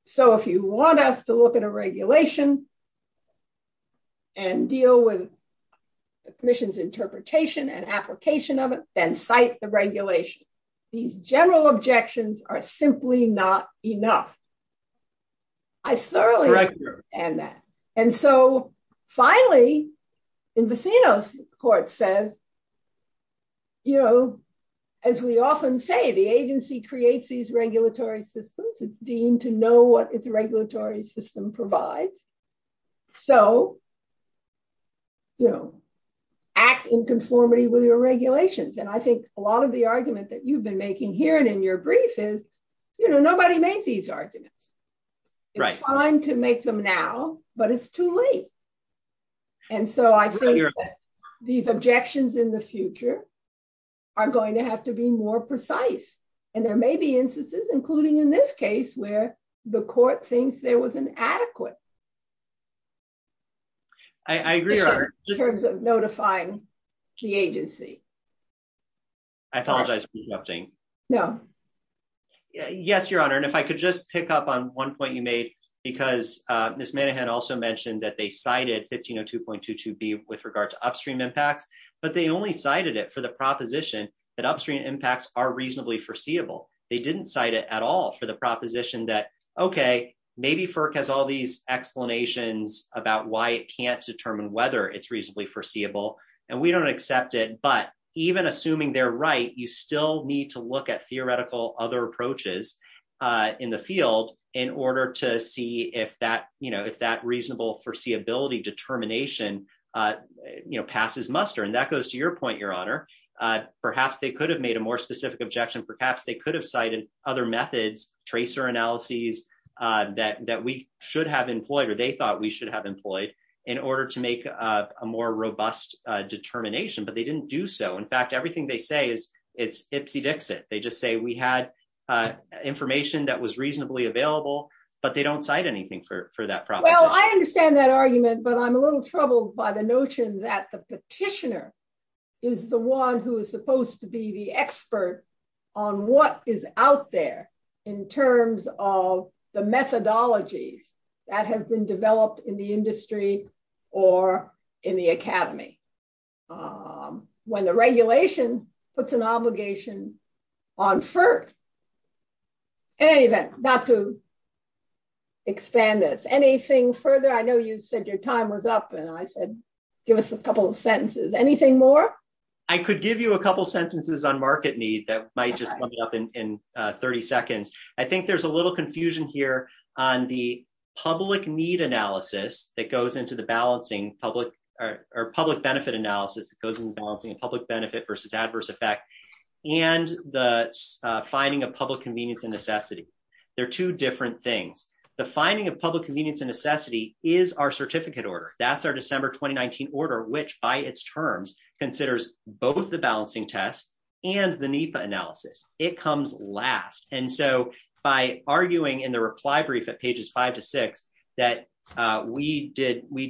So if you want us to look at a regulation and deal with the commission's interpretation and application of it, then cite the regulation. General objections are simply not enough. I thoroughly understand that. And so finally, in Bacino's court says, you know, as we often say, the agency creates these regulatory systems. It's deemed to know what its regulatory system provides. So, you know, act in conformity with your regulations. And I think a lot of the arguments that you've been making here and in your brief is, you know, nobody made these arguments. It's fine to make them now, but it's too late. And so I think that these objections in the future are going to have to be more precise. And there may be instances, including in this case, where the court thinks there was an adequate. I agree. Notifying the agency. I apologize. No. Yes, Your Honor. And if I could just pick up on one point you made, because this man had also mentioned that they cited 1502.22B with regard to upstream impact. But they only cited it for the proposition that upstream impacts are reasonably foreseeable. They didn't cite it at all for the proposition that, okay, maybe FERC has all these explanations about why it can't determine whether it's reasonably foreseeable. And we don't accept it. But even assuming they're right, you still need to look at theoretical other approaches in the field in order to see if that, you know, if that reasonable foreseeability determination, you know, passes muster. And that goes to your point, Your Honor. Perhaps they could have made a more specific objection. Perhaps they could have cited other methods, tracer analyses that we should have employed, or they thought we should have employed, in order to make a more robust determination. But they didn't do so. In fact, everything they say is ipsy dixit. They just say we had information that was reasonably available, but they don't cite anything for that proposition. Well, I understand that argument, but I'm a little troubled by the notion that the petitioner is the one who is supposed to be the expert on what is out there in terms of the methodology that has been developed in the industry or in the academy. When the regulation puts an obligation on first. Anyway, not to expand this. Anything further? I know you said your time was up, and I said, give us a couple of sentences. Anything more? I could give you a couple sentences on market need that might just come up in 30 seconds. I think there's a little confusion here on the public need analysis that goes into the balancing public or public benefit analysis. And the finding of public convenience and necessity. They're two different things. The finding of public convenience and necessity is our certificate order. That's our December 2019 order, which, by its terms, considers both the balancing test and the NEPA analysis. It comes last. And so by arguing in the reply brief at pages five to six that we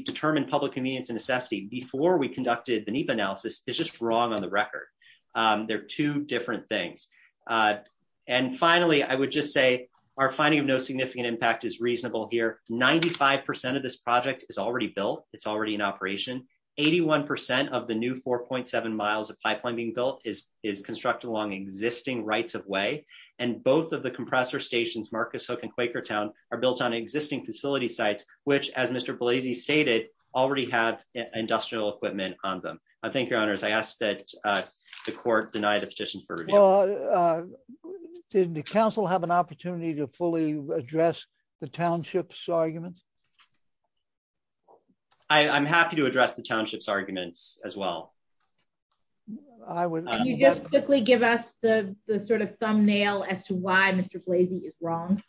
determined public convenience and necessity before we conducted the NEPA analysis is just wrong on the record. They're two different things. And finally, I would just say our finding of no significant impact is reasonable here. 95% of this project is already built. It's already in operation. 81% of the new 4.7 miles of pipeline being built is is constructed along existing rights of way. And both of the compressor stations, Marcus Hook and Quaker Town, are built on existing facility sites, which, as Mr. Blasey stated, already have industrial equipment on them. I thank your honors. I ask that the court deny the petition for review. Did the council have an opportunity to fully address the townships arguments? I'm happy to address the townships arguments as well. Can you just simply give us the sort of thumbnail as to why Mr. Blasey is wrong?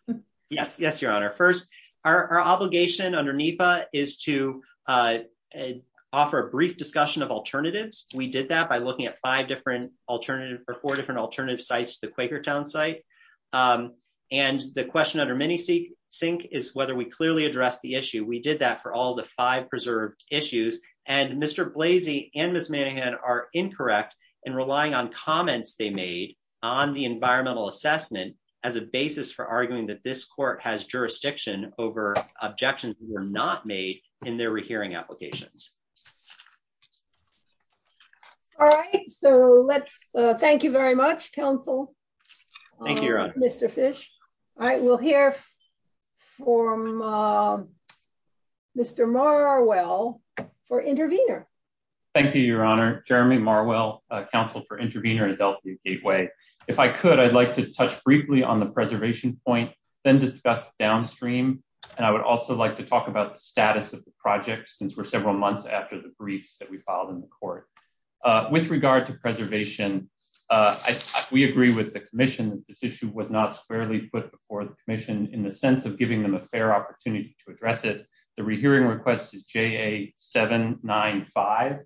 Yes. Yes, your honor. First, our obligation under NEPA is to offer a brief discussion of alternatives. We did that by looking at five different alternative or four different alternative sites to the Quaker Town site. And the question under Mini-Sync is whether we clearly address the issue. We did that for all the five preserved issues. And Mr. Blasey and Ms. Manninghead are incorrect in relying on comments they made on the environmental assessment as a basis for arguing that this court has jurisdiction over objections that were not made in their rehearing applications. All right. So let's thank you very much, council. Thank you, your honor. All right. We'll hear from Mr. Marwell for intervener. Thank you, your honor. Jeremy Marwell, counsel for intervener at Adelphi Gateway. If I could, I'd like to touch briefly on the preservation point, then discuss downstream. And I would also like to talk about the status of the project since we're several months after the brief that we filed in the court. With regard to preservation, we agree with the commission that this issue was not fairly put before the commission in the sense of giving them a fair opportunity to address it. The rehearing request is JA-795.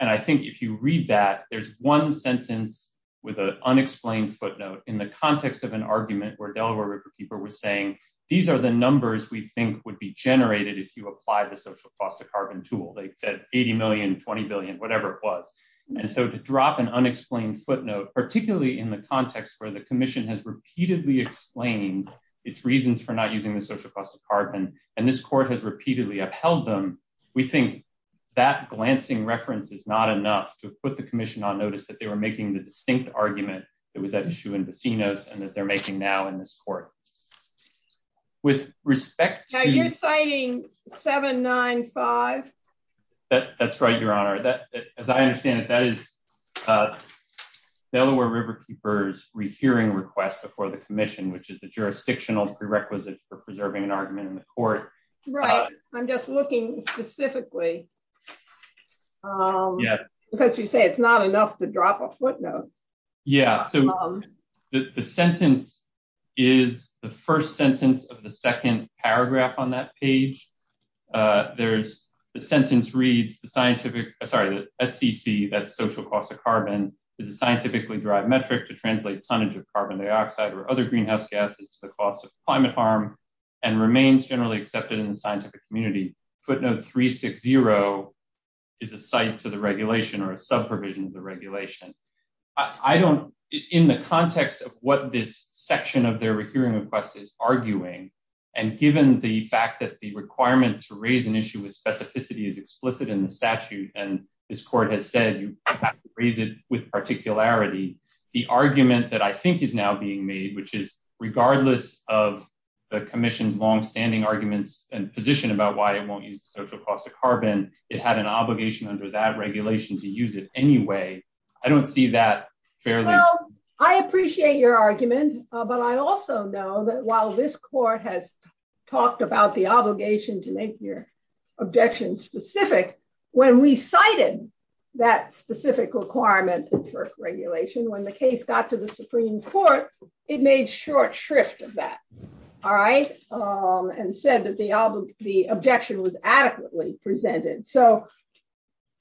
And I think if you read that, there's one sentence with an unexplained footnote in the context of an argument where Delaware people were saying, these are the numbers we think would be generated if you apply the social cost of carbon tool. They said $80 million, $20 billion, whatever it was. And so to drop an unexplained footnote, particularly in the context where the commission has repeatedly explained its reasons for not using the social cost of carbon, and this court has repeatedly upheld them, we think that glancing reference is not enough to put the commission on notice that they were making the distinct argument that was at issue in the keynote and that they're making now in this court. With respect to- Are you citing 795? That's right, Your Honor. As I understand it, that is Delaware Riverkeeper's rehearing request before the commission, which is the jurisdictional prerequisite for preserving an argument in the court. Right. I'm just looking specifically. Because you said it's not enough to drop a footnote. Yeah. The sentence is the first sentence of the second paragraph on that page. The sentence reads, the scientific- sorry, the SCP, that's social cost of carbon, is a scientifically derived metric to translate tonnage of carbon dioxide or other greenhouse gases to the cost of a climate harm and remains generally accepted in the scientific community. Footnote 360 is a cite to the regulation or a sub provision of the regulation. In the context of what this section of their recurring request is arguing, and given the fact that the requirement to raise an issue with specificity is explicit in the statute, and this court has said you have to raise it with particularity, the argument that I think is now being made, which is regardless of the commission's longstanding arguments and position about why they won't use the social cost of carbon, it had an obligation under that regulation to use it anyway, I don't see that fairly- Well, I appreciate your argument, but I also know that while this court has talked about the obligation to make your objection specific, when we cited that specific requirement for regulation, when the case got to the Supreme Court, it made short shrift of that. And said that the objection was adequately presented. So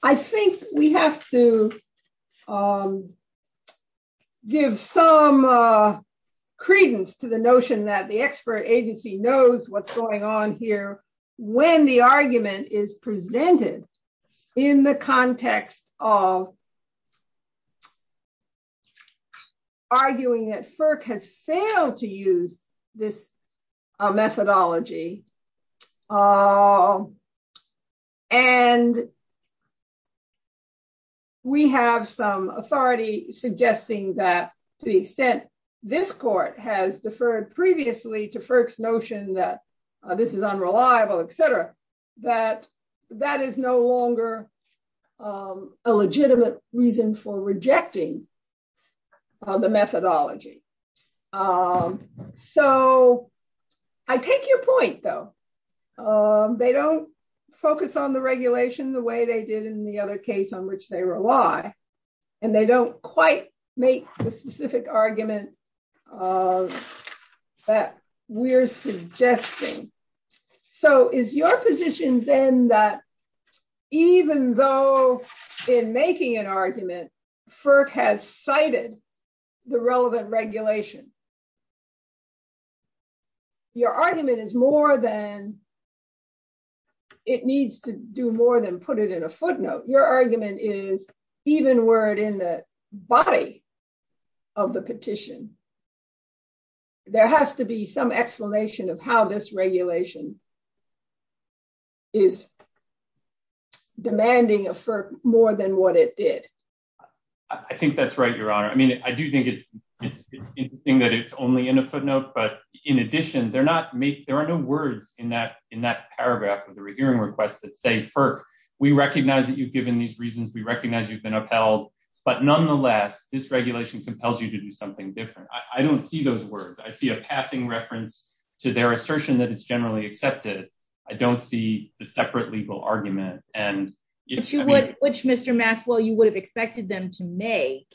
I think we have to give some credence to the notion that the expert agency knows what's going on here when the argument is presented in the context of arguing that FERC has failed to use this methodology. And we have some authority suggesting that the extent this court has deferred previously to FERC's notion that this is unreliable, et cetera, that that is no longer a legitimate reason for rejecting the methodology. So I take your point, though. They don't focus on the regulation the way they did in the other case on which they rely, and they don't quite make the specific argument that we're suggesting. So is your position, then, that even though in making an argument, FERC has cited the relevant regulation, your argument is more than it needs to do more than put it in a footnote. Your argument is even were it in the body of the petition, there has to be some explanation of how this regulation is demanding of FERC more than what it did. I think that's right, Your Honor. I mean, I do think it's interesting that it's only in a footnote. But in addition, there are no words in that paragraph of the hearing request that say, FERC, we recognize that you've given these reasons. We recognize you've been upheld. But nonetheless, this regulation compels you to do something different. I don't see those words. I see a passing reference to their assertion that it's generally accepted. I don't see the separate legal argument. Which, Mr. Maskell, you would have expected them to make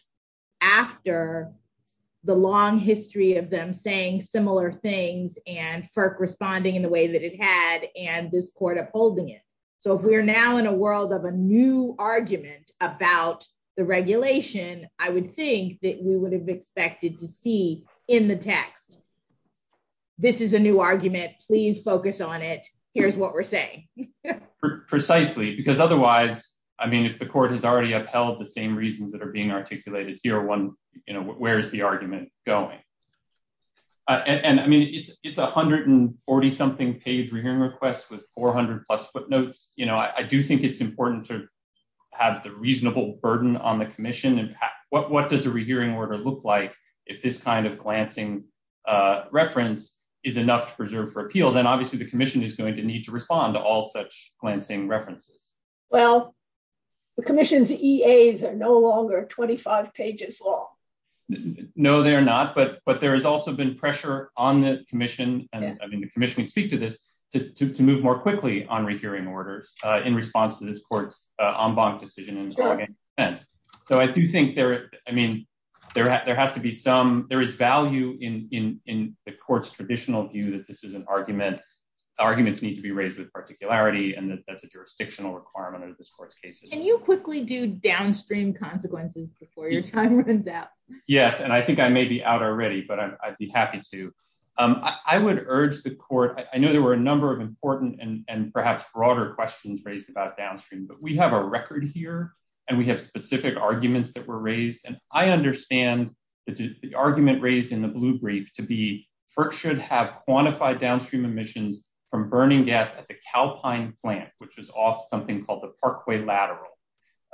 after the long history of them saying similar things and FERC responding in the way that it had and this court upholding it. So we're now in a world of a new argument about the regulation, I would think, that we would have expected to see in the text. This is a new argument. Please focus on it. Here's what we're saying. Precisely. Because otherwise, I mean, if the court has already upheld the same reasons that are being articulated here, where is the argument going? And, I mean, it's 140-something page rehearing request with 400-plus footnotes. You know, I do think it's important to have the reasonable burden on the commission. And what does a rehearing order look like if this kind of glancing reference is enough to preserve for appeal? Then, obviously, the commission is going to need to respond to all such glancing references. Well, the commission's EAs are no longer 25 pages long. No, they're not. But there has also been pressure on the commission, and I mean, the commission can speak to this, to move more quickly on rehearing orders in response to this court's en banc decision. So I do think there is, I mean, there has to be some, there is value in the court's traditional view that this is an argument. Arguments need to be raised with particularity and that's a jurisdictional requirement of this court's case. Can you quickly do downstream consequences before your time runs out? Yes, and I think I may be out already, but I'd be happy to. I would urge the court, I know there were a number of important and perhaps broader questions raised about downstream, but we have a record here, and we have specific arguments that were raised. And I understand the argument raised in the blue brief to be FERC should have quantified downstream emissions from burning gas at the Calpine plant, which was off something called the Parkway Lateral.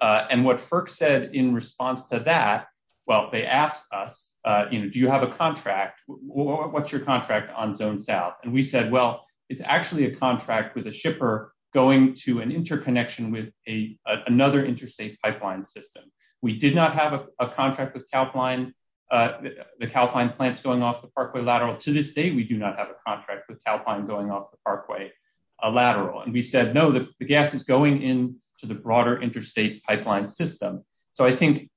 And what FERC said in response to that, well, they asked us, you know, do you have a contract? What's your contract on Zone South? And we said, well, it's actually a contract with a shipper going to an interconnection with another interstate pipeline system. We did not have a contract with the Calpine plant going off the Parkway Lateral to this day. We do not have a contract with Calpine going off the Parkway Lateral. And we said, no, the gas is going into the broader interstate pipeline system. So I think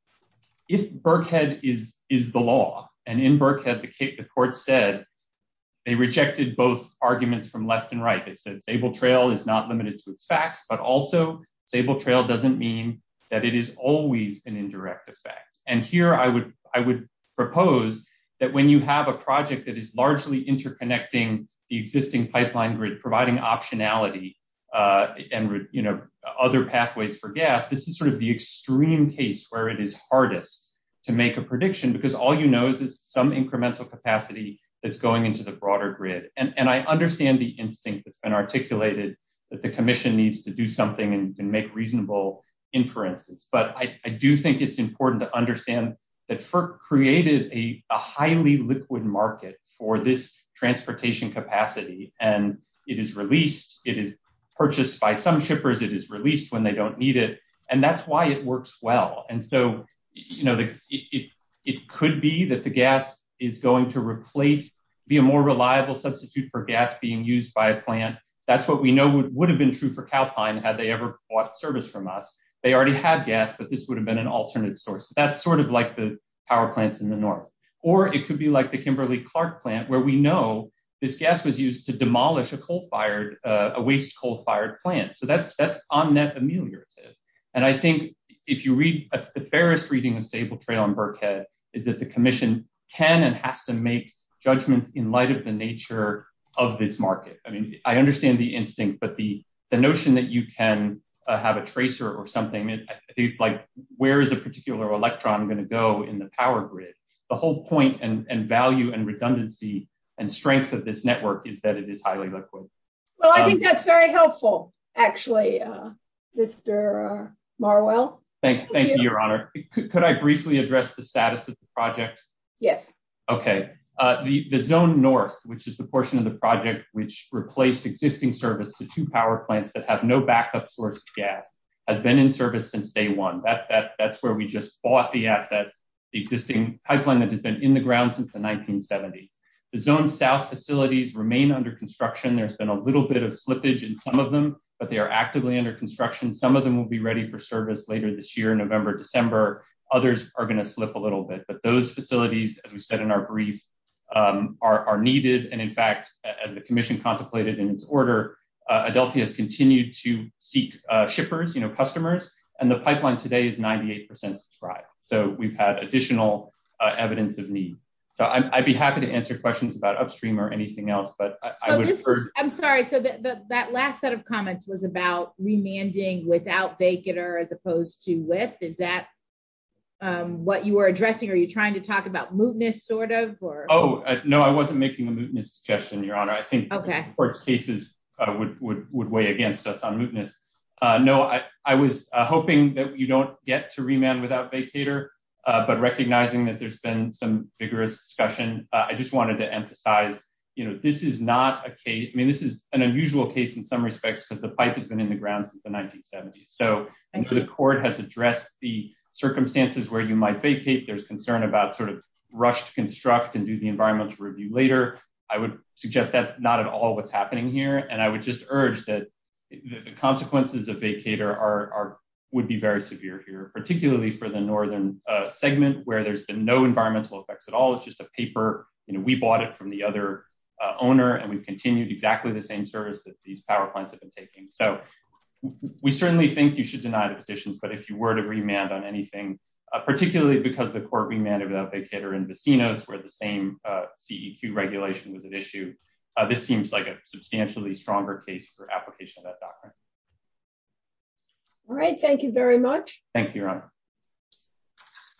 if Berkhead is the law, and in Berkhead the court said they rejected both arguments from left and right that said stable trail is not limited to facts, but also stable trail doesn't mean that it is always an indirect effect. And here I would propose that when you have a project that is largely interconnecting the existing pipeline grid, providing optionality and, you know, other pathways for gas, this is sort of the extreme case where it is hardest to make a prediction, because all you know is some incremental capacity that's going into the broader grid. And I understand the instinct that's been articulated that the commission needs to do something and make reasonable inferences. But I do think it's important to understand that FERC created a highly liquid market for this transportation capacity, and it is released, it is purchased by some shippers, it is released when they don't need it, and that's why it works well. And so, you know, it could be that the gas is going to replace, be a more reliable substitute for gas being used by a plant. That's what we know would have been true for Calpine had they ever bought service from us. They already had gas, but this would have been an alternate source. That's sort of like the power plants in the north. Or it could be like the Kimberly-Clark plant where we know this gas was used to demolish a coal-fired, a waste coal-fired plant. So that's on that ameliorative. And I think if you read, the fairest reading of Staple Trail and Birkhead is that the commission can and has to make judgments in light of the nature of this market. I mean, I understand the instinct, but the notion that you can have a tracer or something like, where is a particular electron going to go in the power grid? The whole point and value and redundancy and strength of this network is that it is highly liquid. Well, I think that's very helpful, actually, Mr. Marwell. Thank you, Your Honor. Could I briefly address the status of the project? Yes. Okay. The zone north, which is the portion of the project which replaced existing service to two power plants that have no backup source gas, has been in service since day one. That's where we just bought the asset, the existing pipeline that has been in the ground since the 1970s. The zone south facilities remain under construction. There's been a little bit of slippage in some of them, but they are actively under construction. Some of them will be ready for service later this year, November, December. Others are going to slip a little bit. But those facilities, as we said in our brief, are needed. And, in fact, as the commission contemplated in its order, Adelty has continued to seek shippers, you know, customers. And the pipeline today is 98% subscribed. So we've had additional evidence of need. I'd be happy to answer questions about Upstream or anything else. I'm sorry. That last set of comments was about remanding without vacater as opposed to lift. Is that what you are addressing? Are you trying to talk about mootness sort of? Oh, no, I wasn't making a mootness suggestion, Your Honor. I think court cases would weigh against us on mootness. No, I was hoping that we don't get to remand without vacater. But recognizing that there's been some vigorous discussion, I just wanted to emphasize, you know, this is not a case. I mean, this is an unusual case in some respects because the pipe has been in the ground since the 1970s. And so the court has addressed the circumstances where you might vacate. There's concern about sort of rushed construct and do the environmental review later. I would suggest that's not at all what's happening here. And I would just urge that the consequences of vacater would be very severe here, particularly for the northern segment where there's been no environmental effects at all. It's just a paper. We bought it from the other owner and we continued exactly the same service that these power plants have been taking. So we certainly think you should deny the position. But if you were to remand on anything, particularly because the court remanded without vacater in Vecinos where the same CEQ regulation was at issue. This seems like a substantially stronger case for application. All right. Thank you very much. Thank you.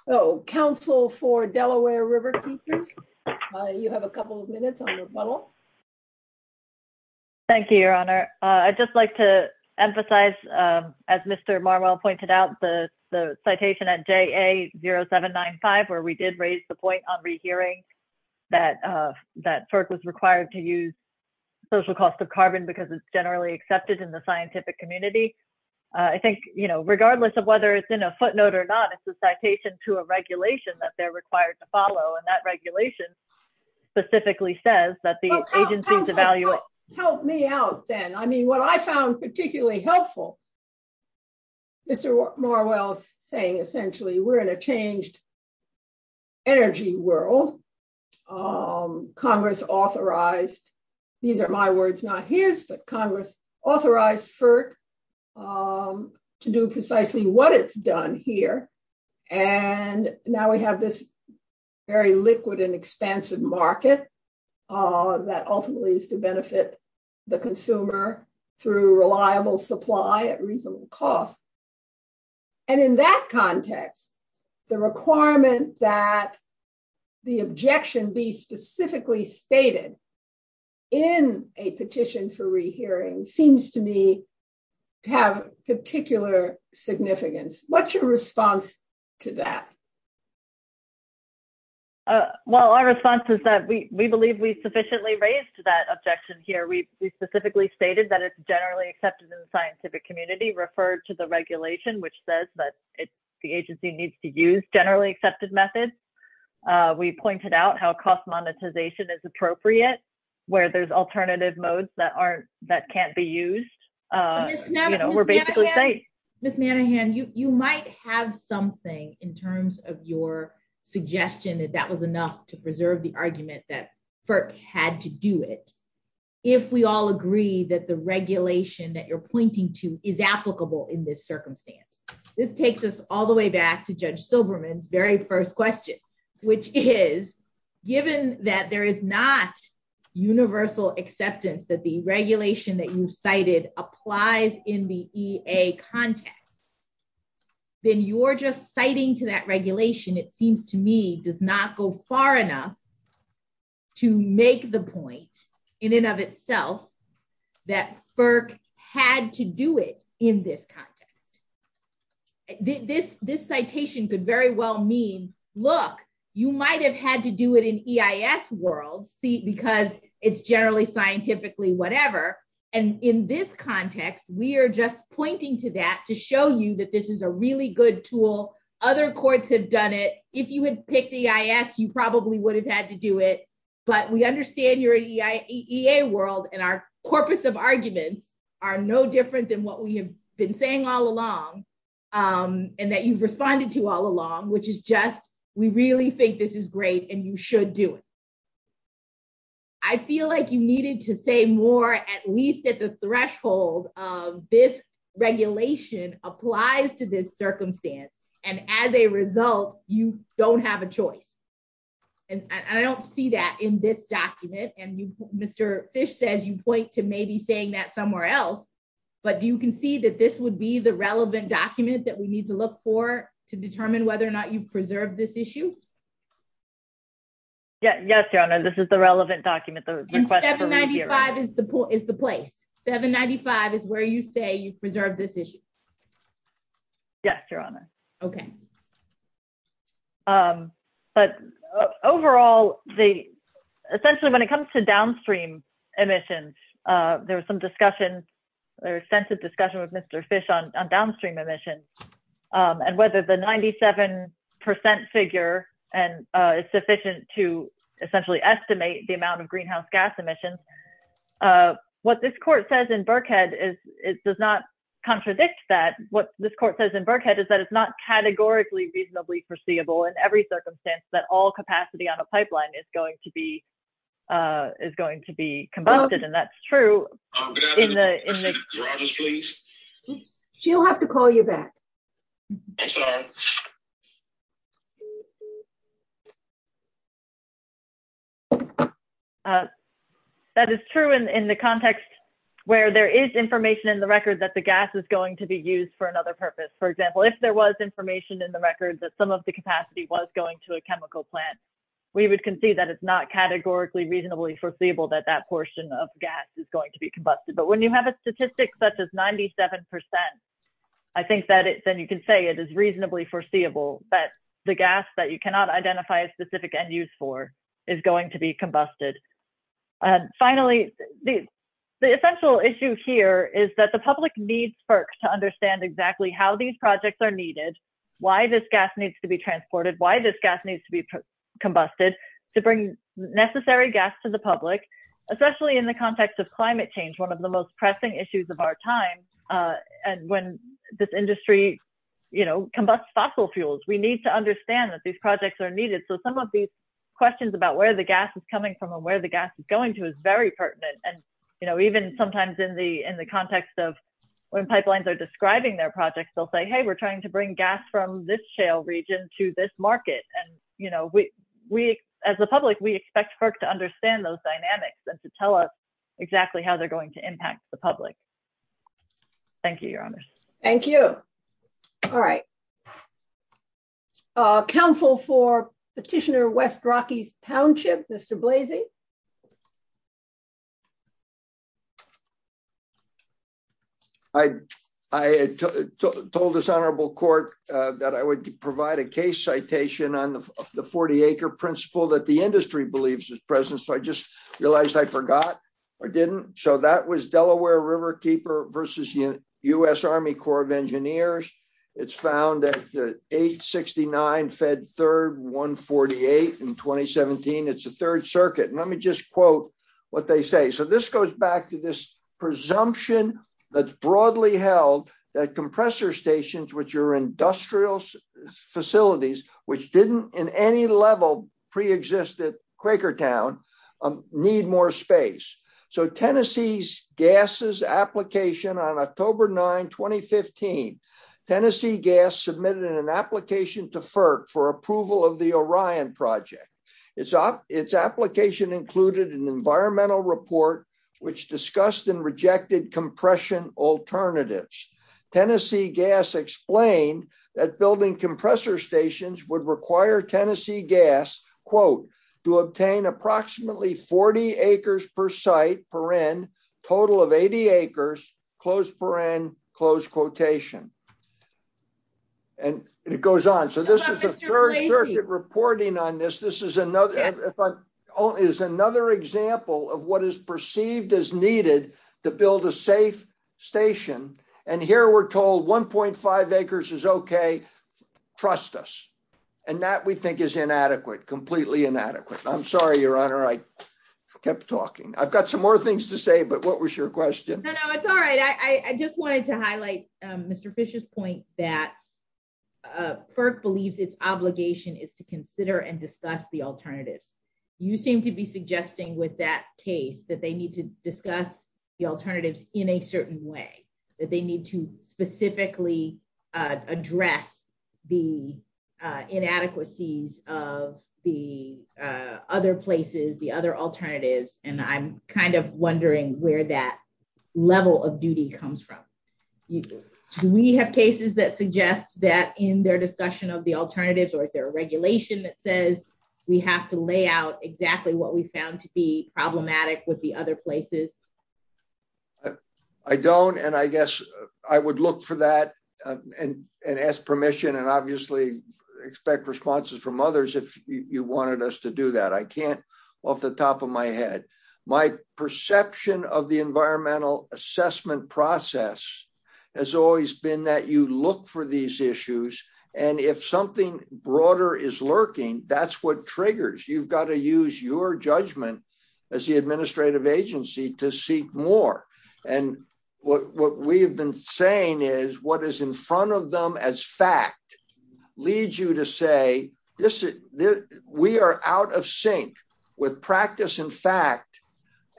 Oh, counsel for Delaware River. You have a couple of minutes. Thank you, Your Honor. I'd just like to emphasize, as Mr. The citation at J.A. 0795, where we did raise the point on the hearing that that was required to use social cost of carbon because it's generally accepted in the scientific community. I think, you know, regardless of whether it's in a footnote or not, it's a citation to a regulation that they're required to follow. And that regulation specifically says that the agency's evaluate. Help me out then. I mean, what I found particularly helpful. Mr. Marwell saying essentially we're in a changed. Energy world. Congress authorized. These are my words, not his, but Congress authorized for to do precisely what it's done here. And now we have this very liquid and expensive market that ultimately is to benefit the consumer through reliable supply at reasonable cost. And in that context, the requirement that the objection be specifically stated. In a petition for rehearing seems to me. Have particular significance. What's your response to that? Well, our response is that we believe we sufficiently raised that objection here. We specifically stated that it's generally accepted in the scientific community. Referred to the regulation, which says that the agency needs to use generally accepted methods. We pointed out how cost monetization is appropriate where there's alternative modes that aren't that can't be used. We're basically saying this, Manningham, you might have something in terms of your suggestion that that was enough to preserve the argument that had to do it. If we all agree that the regulation that you're pointing to is applicable in this circumstance. This takes us all the way back to Judge Silberman's very first question, which is given that there is not universal acceptance that the regulation that you cited applies in the EA context. Then you're just citing to that regulation. It seems to me does not go far enough. To make the point in and of itself that FERC had to do it in this context. This citation could very well mean, look, you might have had to do it in EIS world because it's generally scientifically whatever. In this context, we are just pointing to that to show you that this is a really good tool. Other courts have done it. If you would pick EIS, you probably would have had to do it. But we understand your EA world and our corpus of arguments are no different than what we have been saying all along. And that you've responded to all along, which is just we really think this is great and you should do it. I feel like you needed to say more, at least at the threshold of this regulation applies to this circumstance. And as a result, you don't have a choice. And I don't see that in this document. And Mr. Fish says you point to maybe saying that somewhere else. But you can see that this would be the relevant document that we need to look for to determine whether or not you preserve this issue. Yes, Your Honor, this is the relevant document. And 795 is the place. 795 is where you say you preserve this issue. Yes, Your Honor. OK. But overall, essentially when it comes to downstream emissions, there are some discussions, extensive discussion with Mr. Fish on downstream emissions and whether the 97 percent figure is sufficient to essentially estimate the amount of greenhouse gas emissions. What this court says in Berkhead is it does not contradict that. What this court says in Berkhead is that it's not categorically reasonably foreseeable in every circumstance that all capacity on a pipeline is going to be is going to be combusted. And that's true. She'll have to call you back. That is true in the context where there is information in the record that the gas is going to be used for another purpose. For example, if there was information in the record that some of the capacity was going to a chemical plant, we would concede that it's not categorically reasonably foreseeable that that portion of gas is going to be combusted. But when you have a statistic such as 97 percent, I think that then you can say it is reasonably foreseeable that the gas that you cannot identify a specific end use for is going to be combusted. Finally, the essential issue here is that the public needs to understand exactly how these projects are needed, why this gas needs to be transported, why this gas needs to be combusted to bring necessary gas to the public, especially in the context of climate change, one of the most pressing issues of our time. And when this industry combusts fossil fuels, we need to understand that these projects are needed. So some of these questions about where the gas is coming from and where the gas is going to is very pertinent. And even sometimes in the context of when pipelines are describing their projects, they'll say, hey, we're trying to bring gas from this shale region to this market. And as the public, we expect FERC to understand those dynamics and to tell us exactly how they're going to impact the public. Thank you, Your Honor. Thank you. All right. Counsel for Petitioner Wes Brockey's township, Mr. Blasey. I told this honorable court that I would provide a case citation on the 40 acre principle that the industry believes is present. So I just realized I forgot. I didn't. So that was Delaware Riverkeeper versus U.S. Army Corps of Engineers. It's found that 869 Fed Third 148 in 2017. It's the Third Circuit. Let me just quote what they say. So this goes back to this presumption that's broadly held that compressor stations, which are industrial facilities, which didn't in any level preexisted Quaker Town, need more space. So Tennessee's gases application on October 9, 2015, Tennessee Gas submitted an application to FERC for approval of the Orion project. Its application included an environmental report which discussed and rejected compression alternatives. Tennessee Gas explained that building compressor stations would require Tennessee Gas, quote, to obtain approximately 40 acres per site per end, total of 80 acres, close per end, close quotation. And it goes on. So this is the Third Circuit reporting on this. This is another example of what is perceived as needed to build a safe station. And here we're told 1.5 acres is okay. Trust us. And that we think is inadequate, completely inadequate. I'm sorry, Your Honor. I kept talking. I've got some more things to say, but what was your question? No, no, it's all right. I just wanted to highlight Mr. Fish's point that FERC believes its obligation is to consider and discuss the alternatives. You seem to be suggesting with that case that they need to discuss the alternatives in a certain way, that they need to specifically address the inadequacies of the other places, the other alternatives. And I'm kind of wondering where that level of duty comes from. Do we have cases that suggest that in their discussion of the alternatives or is there a regulation that says we have to lay out exactly what we found to be problematic with the other places? I don't. And I guess I would look for that and ask permission and obviously expect responses from others if you wanted us to do that. I can't off the top of my head. My perception of the environmental assessment process has always been that you look for these issues and if something broader is lurking, that's what triggers. You've got to use your judgment as the administrative agency to seek more. And what we've been saying is what is in front of them as fact leads you to say we are out of sync with practice and fact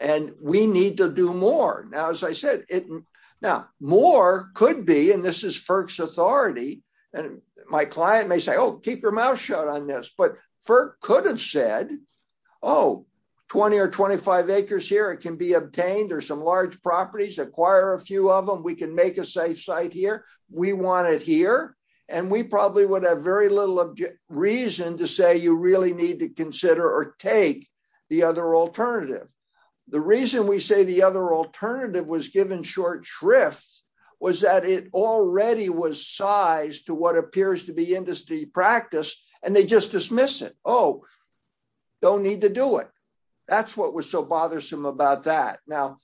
and we need to do more. Now, as I said, more could be, and this is FERC's authority, and my client may say, oh, keep your mouth shut on this. But FERC could have said, oh, 20 or 25 acres here can be obtained. There's some large properties. Acquire a few of them. We can make a safe site here. We want it here. And we probably would have very little reason to say you really need to consider or take the other alternative. The reason we say the other alternative was given short shrift was that it already was sized to what appears to be industry practice and they just dismiss it. Oh, don't need to do it. That's what was so bothersome about that. Now,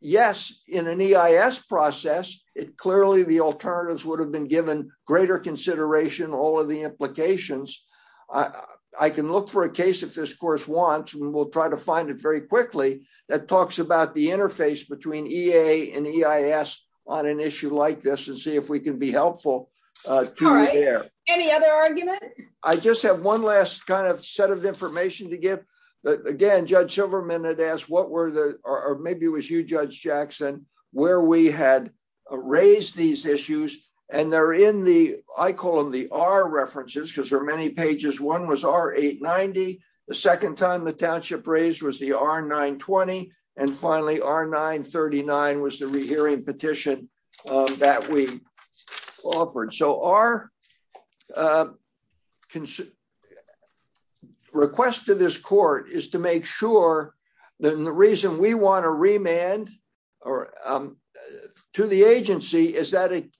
yes, in an EIS process, clearly the alternatives would have been given greater consideration, all of the implications. I can look for a case if this course wants and we'll try to find it very quickly that talks about the interface between EA and EIS on an issue like this and see if we can be helpful. All right. Any other argument? I just have one last kind of set of information to give. Again, Judge Silverman had asked what were the or maybe it was you, Judge Jackson, where we had raised these issues. And they're in the I call them the R references because there are many pages. One was R890. The second time the township raised was the R920. And finally, R939 was the rehearing petition that we offered. So our request to this court is to make sure that the reason we want to remand to the agency is that it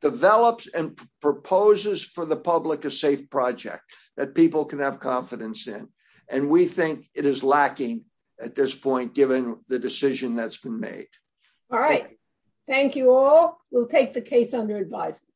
develops and proposes for the public a safe project that people can have confidence in. And we think it is lacking at this point given the decision that's been made. All right. Thank you all. We'll take the case under advisement.